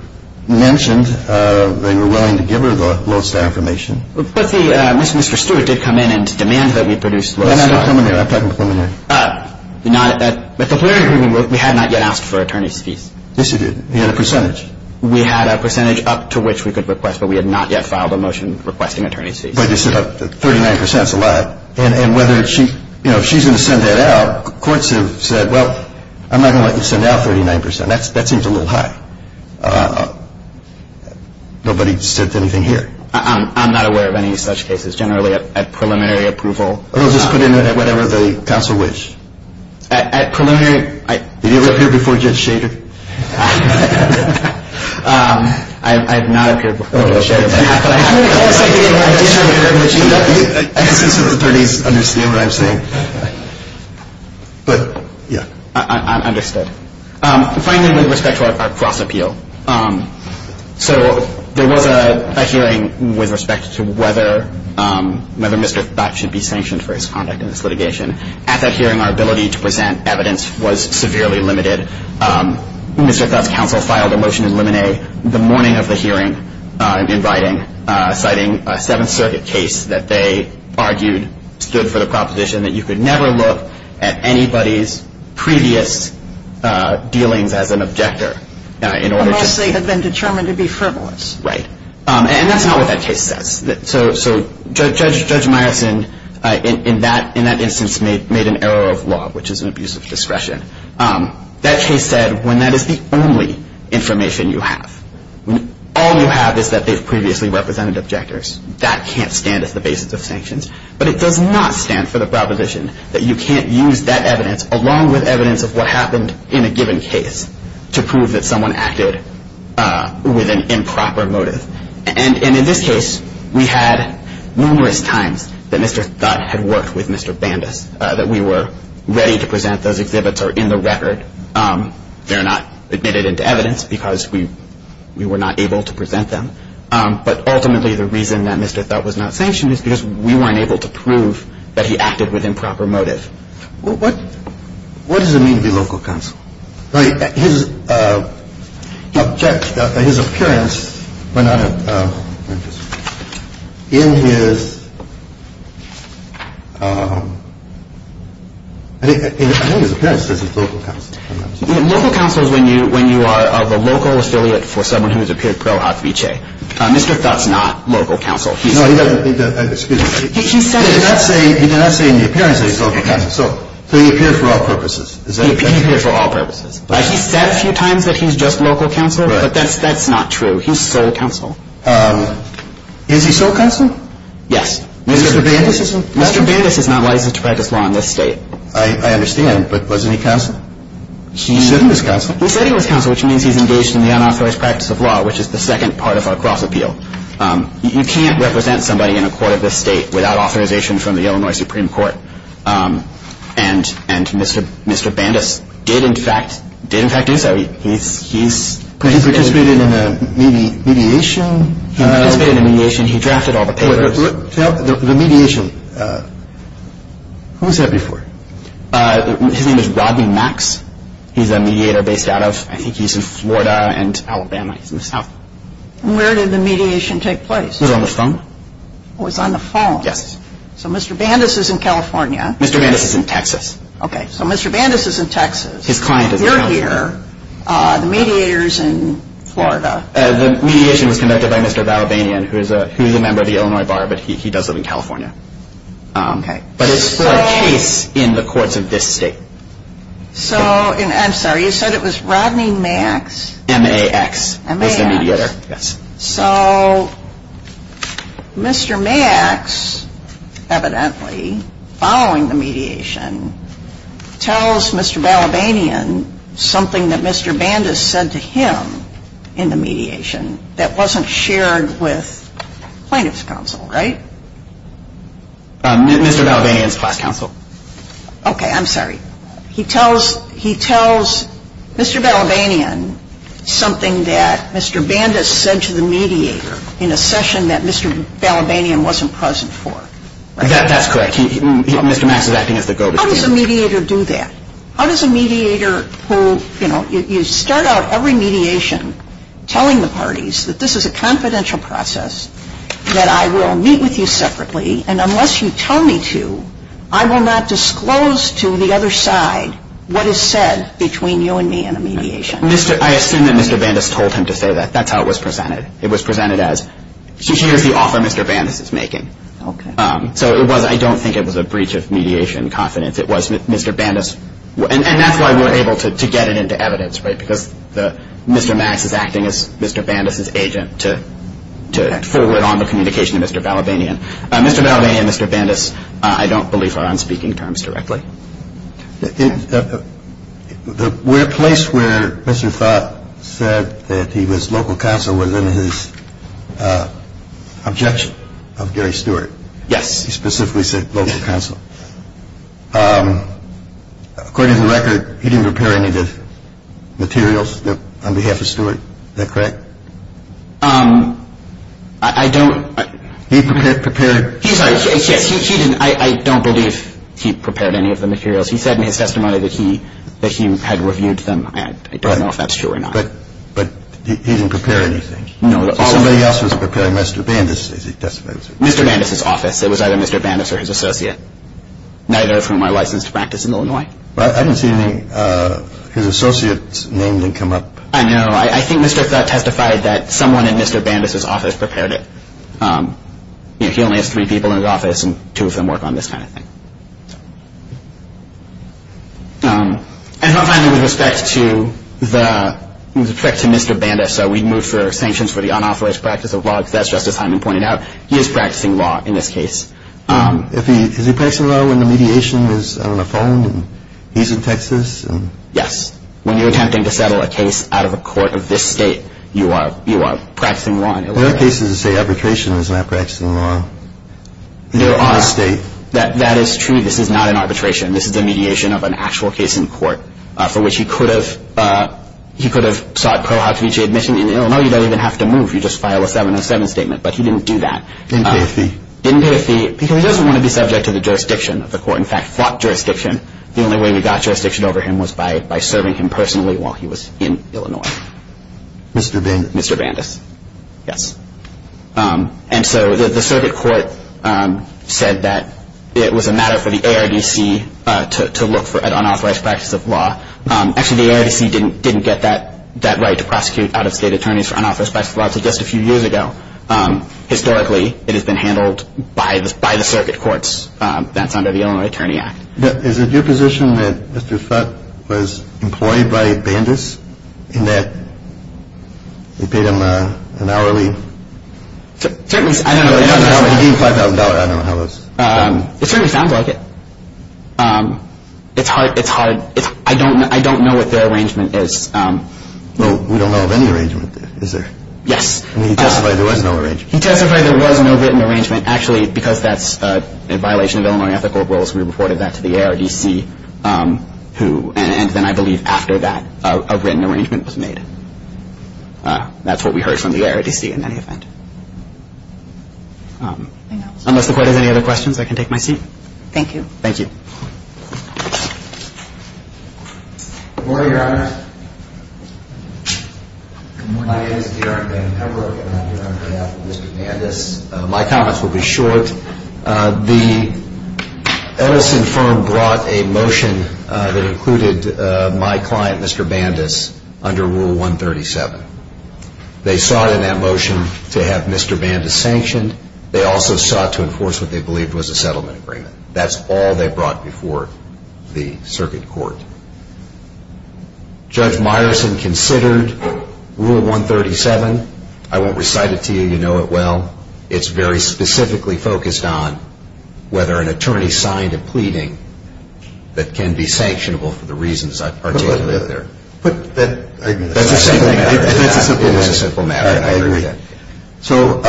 mentioned that you were willing to give her the most information. But Mr. Stewart did come in and demand that we produce the most information. I'm talking to someone there. At the preliminary agreement, we had not yet asked for attorney's fees. Yes, you did. You had a percentage. We had a percentage up to which we could request, but we had not yet filed a motion requesting attorney's fees. 39% is a lot. And whether she's going to send that out, courts have said, well, I'm not going to let you send out 39%. That seems a little high. Nobody said anything here. I'm not aware of any such cases. Generally, at preliminary approval. Just put in there whatever the counsel wished. At preliminary? Have you ever heard before Judge Shader? I have not heard before Judge Shader. But, yeah. I understand. Finally, with respect to our cross-appeal. So, there was a hearing with respect to whether Mr. Scott should be sanctioned for his conduct in this litigation. At that hearing, our ability to present evidence was severely limited. When we took up counsel filed a motion to eliminate, the morning of the hearing, citing a Seventh Circuit case that they argued stood for the proposition that you could never look at anybody's previous dealings as an objector unless they had been determined to be frivolous. Right. And that's not what that case says. So, Judge Meyerson, in that instance, made an error of law, which is an abuse of discretion. That case said, when that is the only information you have, when all you have is that they've previously represented objectors, that can't stand as the basis of sanctions. But it does not stand for the proposition that you can't use that evidence, along with evidence of what happened in a given case, to prove that someone acted with an improper motive. And in this case, we had numerous times that Mr. Scott had worked with Mr. Bandus, that we were ready to present those exhibits or in the record. They're not admitted into evidence because we were not able to present them. But ultimately, the reason that Mr. Scott was not sanctioned is because we weren't able to prove that he acted with improper motives. Well, what does it mean to be local counsel? His appearance went out of interest. In his – I think his appearance was his local counsel. Local counsel is when you are the local affiliate for someone who has appeared pro obfite. Mr. Scott's not local counsel. No, he doesn't – excuse me. He did not say in the appearance that he's local counsel. So he appeared for all purposes. He appeared for all purposes. He said a few times that he's just local counsel, but that's not true. He's sole counsel. Is he sole counsel? Yes. Mr. Bandus is not licensed to practice law in this state. I understand, but wasn't he counsel? He was counsel. He said he was counsel, which means he's engaged in the unauthorized practice of law, which is the second part of our cross-appeal. You can't represent somebody in a court of this state without authorization from the Illinois Supreme Court. And Mr. Bandus did, in fact, do so. He participated in a mediation. He participated in a mediation. He drafted all the papers. The mediation. Who was that before? His name is Rodney Max. He's a mediator based out of – I think he's in Florida and Alabama. Where did the mediation take place? It was on the phone. It was on the phone. Yes. So Mr. Bandus is in California. Mr. Bandus is in Texas. Okay. So Mr. Bandus is in Texas. His client is in Florida. You're here. The mediator is in Florida. The mediation was conducted by Mr. Valvanian, who is a member of the Illinois Bar, but he does live in California. Okay. But it's for a case in the courts of this state. So, I'm sorry, you said it was Rodney Max? M-A-X. M-A-X. Yes. So, Mr. Max, evidently, following the mediation, tells Mr. Valvanian something that Mr. Bandus said to him in the mediation that wasn't shared with finance counsel, right? Mr. Valvanian's class counsel. Okay. I'm sorry. He tells Mr. Valvanian something that Mr. Bandus said to the mediator in a session that Mr. Valvanian wasn't present for. That's correct. Mr. Max is acting as the go-to speaker. How does a mediator do that? How does a mediator who, you know, you start out every mediation telling the parties that this is a confidential process, that I will meet with you separately, and unless you tell me to, I will not disclose to the other side what is said between you and me in a mediation? I assume that Mr. Bandus told him to say that. That's how it was presented. It was presented as, here's the offer Mr. Bandus is making. Okay. So, I don't think it was a breach of mediation confidence. And that's why we're able to get it into evidence, right? Because Mr. Max is acting as Mr. Bandus' agent to forward on the communication to Mr. Valvanian. Mr. Valvanian and Mr. Bandus, I don't believe are on speaking terms directly. We're at a place where Mr. Fott said that his local counsel was in his objection of Gary Stewart. Yes. He specifically said local counsel. According to the record, he didn't prepare any of the materials on behalf of Stewart. Is that correct? I don't… He prepared… I don't believe he prepared any of the materials. He said in his testimony that he had reviewed them and I don't know if that's true or not. But he didn't prepare anything. All he did was prepare Mr. Bandus. Mr. Bandus' office. It was either Mr. Bandus or his associate. Neither from my licensed practice in Illinois. I didn't see his associate's name come up. I know. I think Mr. Fott testified that someone in Mr. Bandus' office prepared it. He only has three people in his office and two of them work on this kind of thing. And finally, with respect to Mr. Bandus, we moved for sanctions for the unauthorized practice of law. As Justice Hyman pointed out, he is practicing law in this case. Is he practicing law when the mediation is on the phone and he's in Texas? Yes. When you're attempting to settle a case out of a court of this state, you are practicing law. Well, that case is a state arbitration. It's not practicing law in a state. That is true. This is not an arbitration. This is a mediation of an actual case in court for which he could have sought pro hoc vici admission. In Illinois, you don't even have to move. You just file a 707 statement, but he didn't do that. He didn't pay a fee. He didn't pay a fee because he doesn't want to be subject to the jurisdiction of the court. In fact, he fought jurisdiction. The only way he got jurisdiction over him was by serving him personally while he was in Illinois. Mr. Bandus. Mr. Bandus. Yes. And so the circuit court said that it was a matter for the ARDC to look for an unauthorized practice of law. Actually, the ARDC didn't get that right to prosecute out-of-state attorneys for unauthorized practice of law until just a few years ago. Historically, it has been handled by the circuit courts. That's under the Illinois Attorney Act. Is it your position that Mr. Sutt was employed by Bandus and that he paid him an hourly? Certainly. I don't know. $25,000, I don't know how much. It certainly sounds like it. It's hard. I don't know what their arrangement is. We don't know of any arrangement, is there? Yes. He testified there was no written arrangement. He testified there was no written arrangement. Actually, because that's in violation of Illinois ethical rules, we reported that to the ARDC. And I believe after that, a written arrangement was made. That's what we heard from the ARDC in that event. Unless the court has any other questions, I can take my seat. Thank you. Thank you. Good morning, Your Honor. My name is Gerard Banks. I work in the Federal Court of Appeal under Mr. Bandus. My comments will be short. The Ellison firm brought a motion that included my client, Mr. Bandus, under Rule 137. They sought in that motion to have Mr. Bandus sanctioned. They also sought to enforce what they believed was a settlement agreement. That's all they brought before the circuit court. Judge Meyerson considered Rule 137. I won't recite it to you. You know it well. It's very specifically focused on whether an attorney signed a pleading that can be sanctionable for the reasons I've articulated there. That's a simple matter. That's a simple matter. I agree. So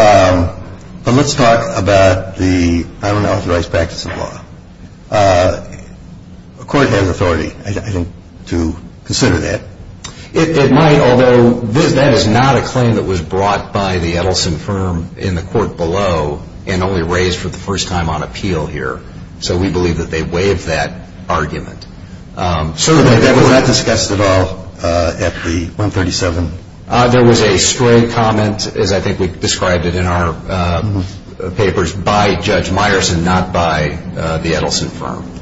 let's talk about the unauthorized practice of law. A court has authority, I think, to consider that. It might, although that is not a claim that was brought by the Ellison firm in the court below and only raised for the first time on appeal here, so we believe that they waived that argument. Certainly, that was not discussed at all at the 137. There was a straight comment, as I think we've described it in our papers, by Judge Meyerson, not by the Ellison firm.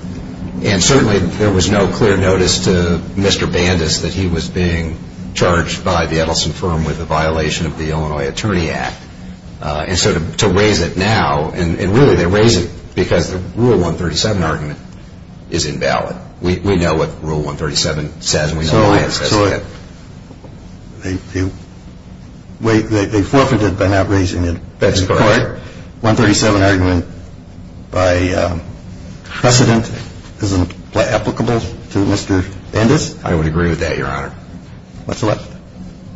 And certainly there was no clear notice to Mr. Bandus that he was being charged by the Ellison firm with a violation of the Illinois Attorney Act. And so to raise it now, and really to raise it because the Rule 137 argument is invalid. We know what Rule 137 said and we know what Meyerson said. Go ahead. They forfeited by not raising it. That's correct. The 137 argument by precedent isn't applicable to Mr. Bandus. I would agree with that, Your Honor. What's the matter?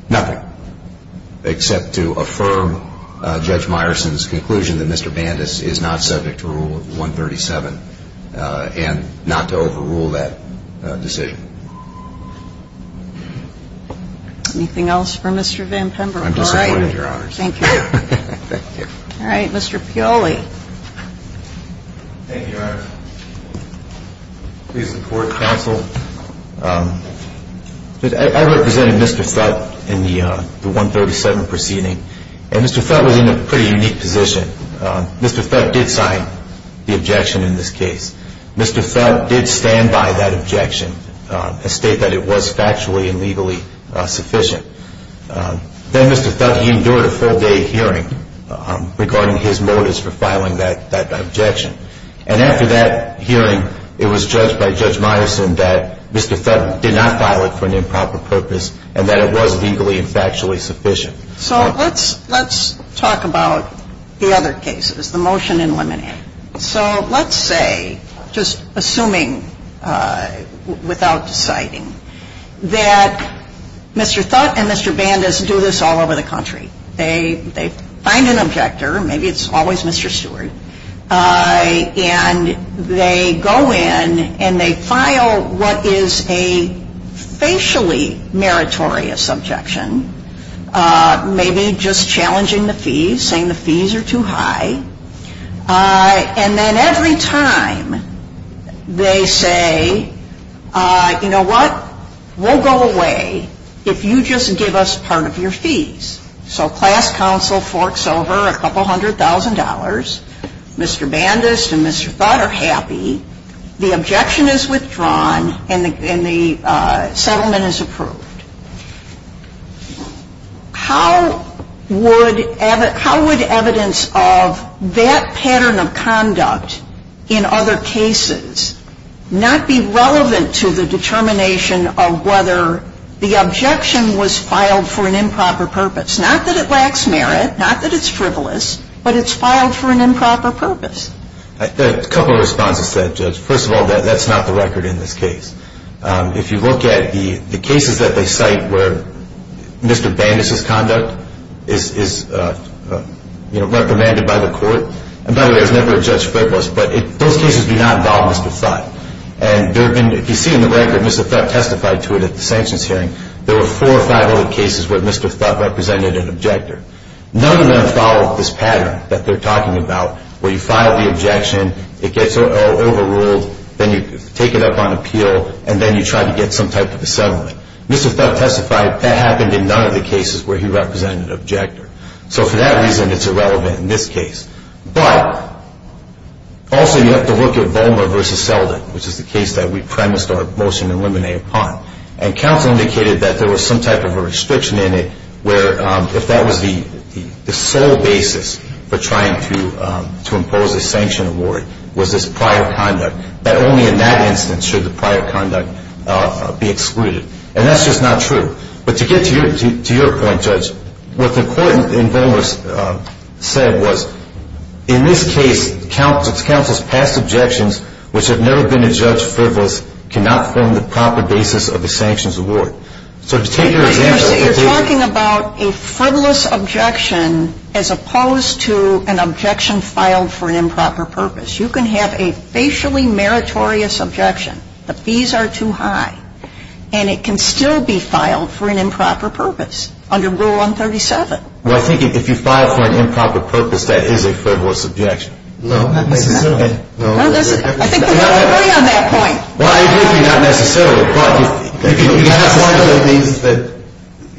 Nothing. Except to affirm Judge Meyerson's conclusion that Mr. Bandus is not subject to Rule 137 and not to overrule that decision. Anything else for Mr. Van Pemberton? No, Your Honor. Thank you. Thank you. All right, Mr. Fioli. Thank you, Your Honor. Please report, counsel. I represented Mr. Fett in the 137 proceeding, and Mr. Fett was in a pretty unique position. Mr. Fett did sign the objection in this case. Mr. Fett did stand by that objection and state that it was factually and legally sufficient. Then Mr. Fett endured a full day hearing regarding his motives for filing that objection. And after that hearing, it was judged by Judge Meyerson that Mr. Fett did not file it for an improper purpose and that it was legally and factually sufficient. So let's talk about the other cases, the motion in limine. So let's say, just assuming without deciding, that Mr. Fett and Mr. Bandus do this all over the country. They find an objector. Maybe it's always Mr. Stewart. And they go in and they file what is a facially meritorious objection, maybe just challenging the fees, saying the fees are too high. And then every time they say, you know what, we'll go away if you just give us part of your fees. So class counsel forks over a couple hundred thousand dollars. Mr. Bandus and Mr. Fett are happy. The objection is withdrawn and the settlement is approved. How would evidence of that pattern of conduct in other cases not be relevant to the determination of whether the objection was filed for an improper purpose? Not that it lacks merit, not that it's frivolous, but it's filed for an improper purpose. A couple of responses to that, Judge. First of all, that's not the record in this case. If you look at the cases that they cite where Mr. Bandus' conduct is recommended by the court, and by the way, there's never a judge frivolous, but those cases do not balance the site. And if you see in the record, Mr. Fett testified to it at the sanctions hearing. There were four or five other cases where Mr. Fett represented an objector. None of them follow this pattern that they're talking about where you file the objection, it gets overruled, then you take it up on appeal, and then you try to get some type of a settlement. Mr. Fett testified that happened in none of the cases where he represented an objector. So for that reason, it's irrelevant in this case. But also, you have to look at Bowmer v. Selden, which is the case that we premised our motion and limine upon. And counsel indicated that there was some type of a restriction in it where if that was the sole basis for trying to impose a sanction award, it was this prior conduct, that only in that instance should the prior conduct be excluded. And that's just not true. But to get to your point, Judge, what the court in Bowmer said was, in this case, counsel's past objections, which have never been adjudged frivolous, cannot form the proper basis of a sanctions award. So to take advantage of that. You're talking about a frivolous objection as opposed to an objection filed for improper purpose. You can have a facially meritorious objection. The fees are too high. And it can still be filed for an improper purpose under Rule 137. Well, I think if you file for an improper purpose, that is a frivolous objection. No, I think not. No, it doesn't. I think there's a theory on that point. Well, I agree with you. Not necessarily.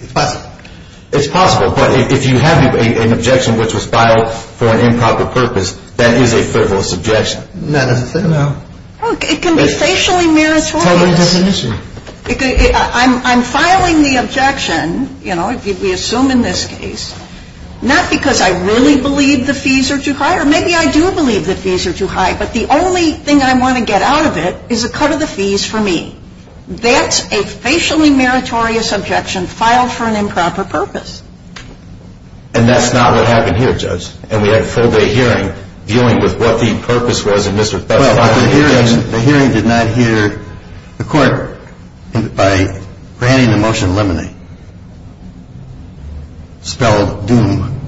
It's possible. It's possible. But if you have an objection which was filed for an improper purpose, that is a frivolous objection. No, no. It can be facially meritorious. I'm filing the objection, you know, we assume in this case, not because I really believe the fees are too high, or maybe I do believe the fees are too high, but the only thing I want to get out of it is a cut of the fees for me. That's a facially meritorious objection filed for an improper purpose. And that's not what happened here, Judge. And we had a full-day hearing dealing with what the purpose was of Mr. Thurmond. I think that by granting the motion limine, spelled doom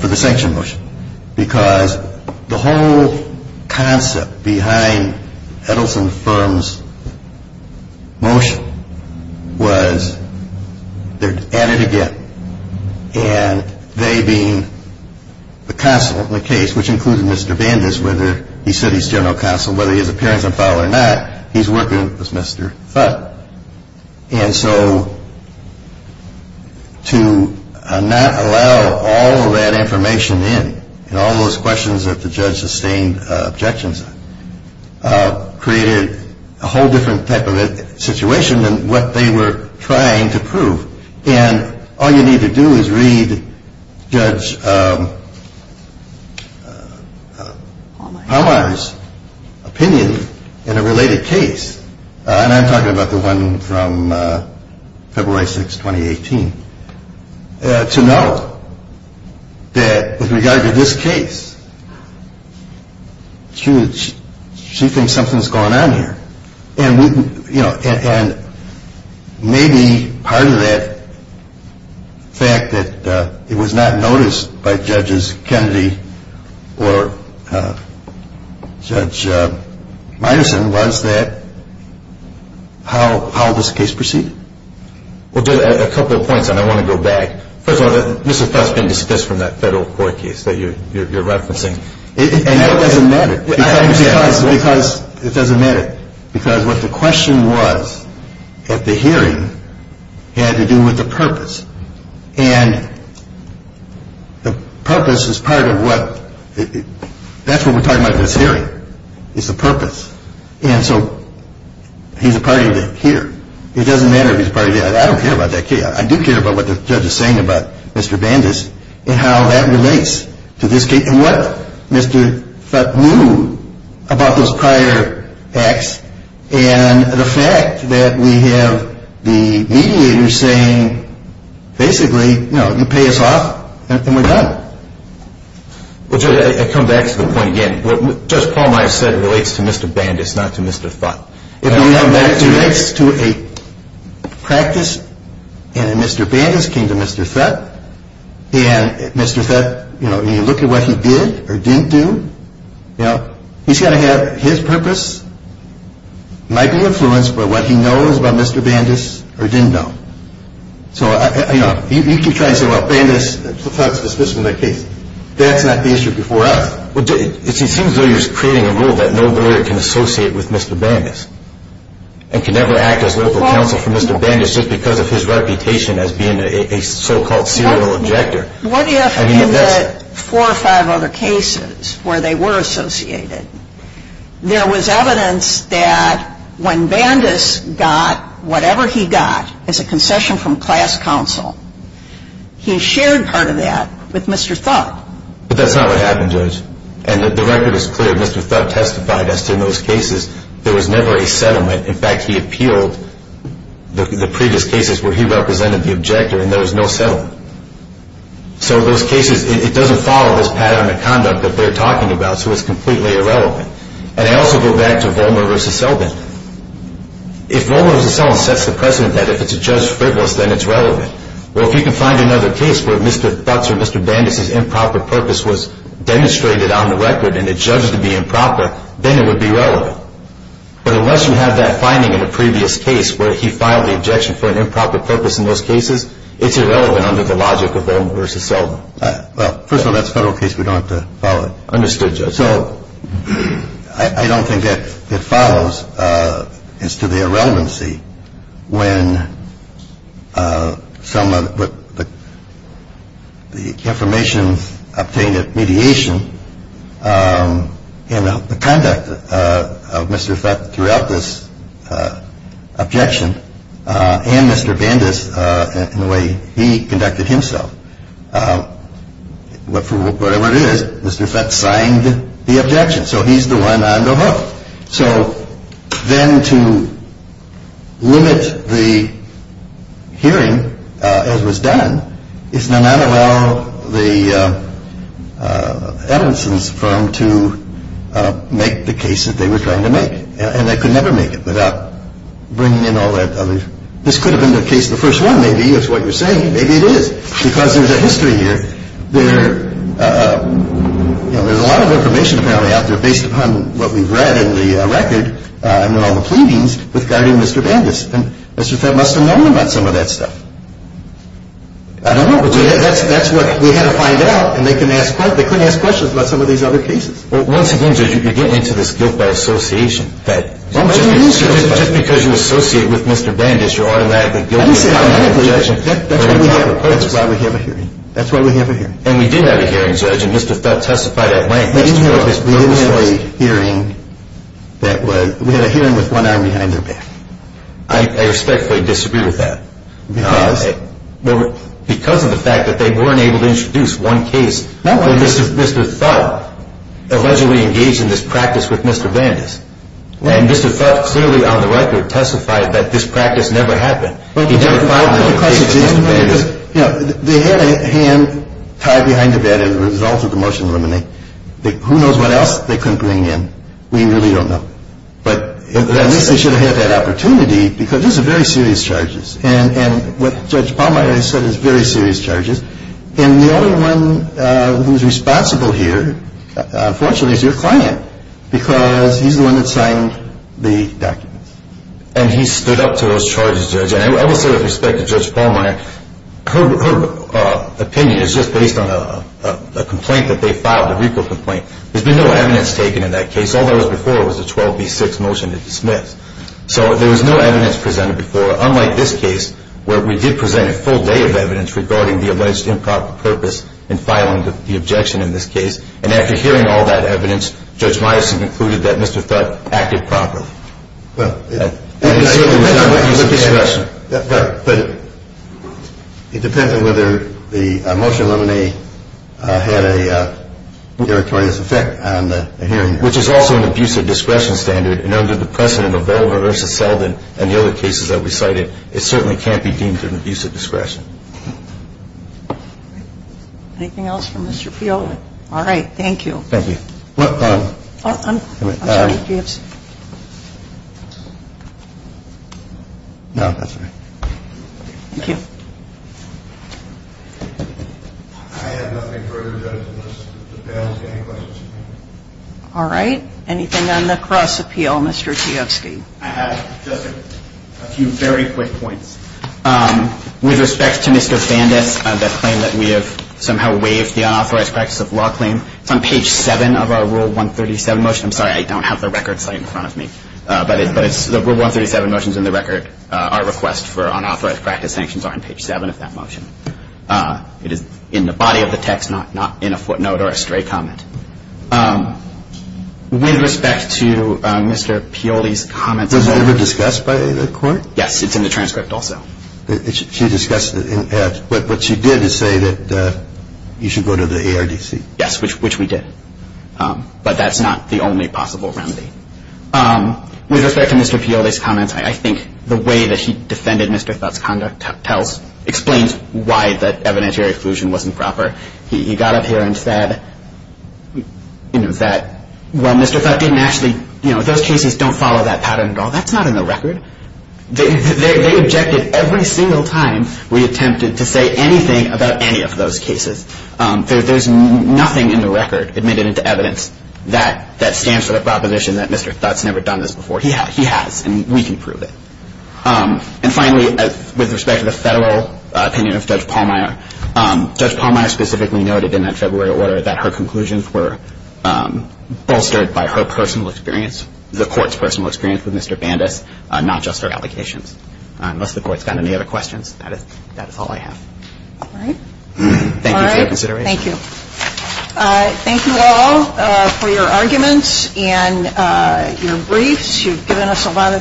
for the sanction motion, because the whole concept behind Edelson Thurmond's motion was they're at it again, and they being the counsel in the case, which includes Mr. Vanders, whether he said he's general counsel, whether he has an appearance in file or not, he's working with Mr. Thurmond. And so to not allow all of that information in, and all those questions that the judge sustained objections on, created a whole different type of situation than what they were trying to prove. And all you need to do is read Judge Mellor's opinion in a related case, and I'm talking about the one from February 6, 2018, to note that with regard to this case, she thinks something's going on here. And maybe part of that fact that it was not noticed by Judges Kennedy or Judge Meyerson, was that how this case proceeded. Well, just a couple of points, and I want to go back. Mr. Thurmond, this is from that federal court case that you're referencing. And that doesn't matter. Because it doesn't matter. Because what the question was at the hearing had to do with the purpose. And the purpose is part of what – that's what we're talking about at this hearing, is the purpose. And so he's a part of that case. It doesn't matter if he's a part of that case. I don't care about that case. I do care about what the judge is saying about Mr. Vanders and how that relates to this case and what Mr. Thut knew about those prior acts and the fact that we have the mediator saying, basically, you know, you pay us off and we're done. I come back to the point again. What Judge Pallmeyer said relates to Mr. Vanders, not to Mr. Thut. It relates to a practice, and Mr. Vanders came to Mr. Thut, and Mr. Thut, you know, when you look at what he did or didn't do, you know, he's got to have his purpose. It might be influence, but what he knows about Mr. Vanders or didn't know. So, you know, you keep trying to say, well, Vanders took part in this particular case. That's not the issue before us. It seems though you're creating a rule that nobody can associate with Mr. Vanders and can never act as local counsel for Mr. Vanders just because of his reputation as being a so-called serial abductor. What if in the four or five other cases where they were associated, there was evidence that when Vanders got whatever he got as a concession from class counsel, he shared part of that with Mr. Thut. But that's not what happened, Judge. And the record is clear. Mr. Thut testified as to those cases. There was never a settlement. In fact, he appealed the previous cases where he represented the objector, and there was no settlement. So those cases, it doesn't follow those patterns of conduct that they're talking about. So it's completely irrelevant. And I also go back to Volmer v. Selden. If Volmer v. Selden sets the precedent that if it's a judge frivolous, then it's relevant. Well, if you can find another case where Mr. Thut or Mr. Vanders' improper purpose was demonstrated on the record and it judged to be improper, then it would be relevant. But unless you have that finding in a previous case where he filed the objection for an improper purpose in those cases, it's irrelevant under the logic of Volmer v. Selden. Well, first of all, that's a federal case. We don't have to follow it. Understood, Judge. So I don't think that it follows as to the irrelevancy when the information obtained at mediation and the conduct of Mr. Thut throughout this objection and Mr. Vanders in the way he conducted himself. Whatever it is, Mr. Thut signed the objection. So he's the one I'm going to vote. So then to limit the hearing as was done, it's going to not allow the evidence from to make the case that they were going to make. And they could never make it without bringing in all that evidence. This could have been the case of the first one, maybe. That's what you're saying. Maybe it is because there's a history here where, you know, there's a lot of information coming out there based upon what we've read in the record, in all the proceedings regarding Mr. Vanders. And Mr. Thut must have known about some of that stuff. I don't know, but that's what we're going to find out. And they couldn't ask questions about some of these other cases. Well, once again, Judge, you're getting into this guilt by association thing. Just because you associate with Mr. Vanders, you're automatically guilty. That's why we have a hearing. That's why we have a hearing. And we did have a hearing, Judge, and Mr. Thut testified at length. We didn't have this preliminary hearing. We had a hearing with one arm behind their back. I expect they disagreed with that because of the fact that they weren't able to introduce one case. Mr. Thut allegedly engaged in this practice with Mr. Vanders. And Mr. Thut, clearly on the record, testified that this practice never happened. They had a hand tied behind their back as a result of the motion to eliminate. Who knows what else they couldn't bring in. We really don't know. But at least they should have had that opportunity because these are very serious charges. And what Judge Palmer has said is very serious charges. And the other one who's responsible here, fortunately, is your client because he's the one who signed the document. And he stood up to those charges, Judge. And also, with respect to Judge Palmer, her opinion is just based on a complaint that they filed, a legal complaint. There's been no evidence taken in that case. All there was before was a 12B6 motion to dismiss. So there was no evidence presented before, unlike this case, where we did present a full day of evidence regarding the alleged improper purpose in filing the objection in this case. And after hearing all that evidence, Judge Myerson concluded that Mr. Thut acted properly. Well, it depends on whether the motion to eliminate had a negative effect on the hearing. Which is also an abuse of discretion standard. And under the precedent of Obella v. Feldman and the other cases that we cited, it certainly can't be deemed an abuse of discretion. Anything else for Mr. Field? All right. Thank you. Thank you. I have nothing further to add to this. If the panel has any questions. All right. Anything on the cross-appeal, Mr. Chiosky? Just a few very quick points. With respect to Mr. Bandit, that claim that we have somehow waived the unauthorized practice of law claim, it's on page 7 of our Rule 137 motion. I'm sorry, I don't have the record plate in front of me. But the Rule 137 motion is in the record. Our request for unauthorized practice sanctions are on page 7 of that motion. It is in the body of the text, not in a footnote or a straight comment. With respect to Mr. Pioli's comment- Was that ever discussed by the court? Yes, it's in the transcript also. He discussed it. But what you did is say that you should go to the ARDC. Yes, which we did. But that's not the only possible remedy. With respect to Mr. Pioli's comments, I think the way that he defended Mr. Feltz's conduct explains why the evidentiary exclusion wasn't proper. He got up here and said that while Mr. Feltz didn't actually- Well, that's not in the record. They objected every single time we attempted to say anything about any of those cases. There's nothing in the record that made it into evidence that stands for the proposition that Mr. Feltz never done this before. He has, and we can prove it. And finally, with respect to the federal opinion of Judge Pallmeyer, Judge Pallmeyer specifically noted in that February order that her conclusions were bolstered by her personal experience, the court's personal experience with Mr. Bandus, not just her allegations. Unless the court's got any other questions, that is all I have. All right. Thank you for your consideration. Thank you. Thank you all for your arguments and your briefs. You've given us a lot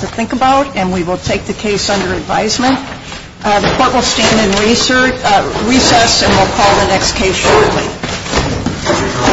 to think about, and we will take the case under advisement. The court will stand in recess, and we'll call the next case shortly.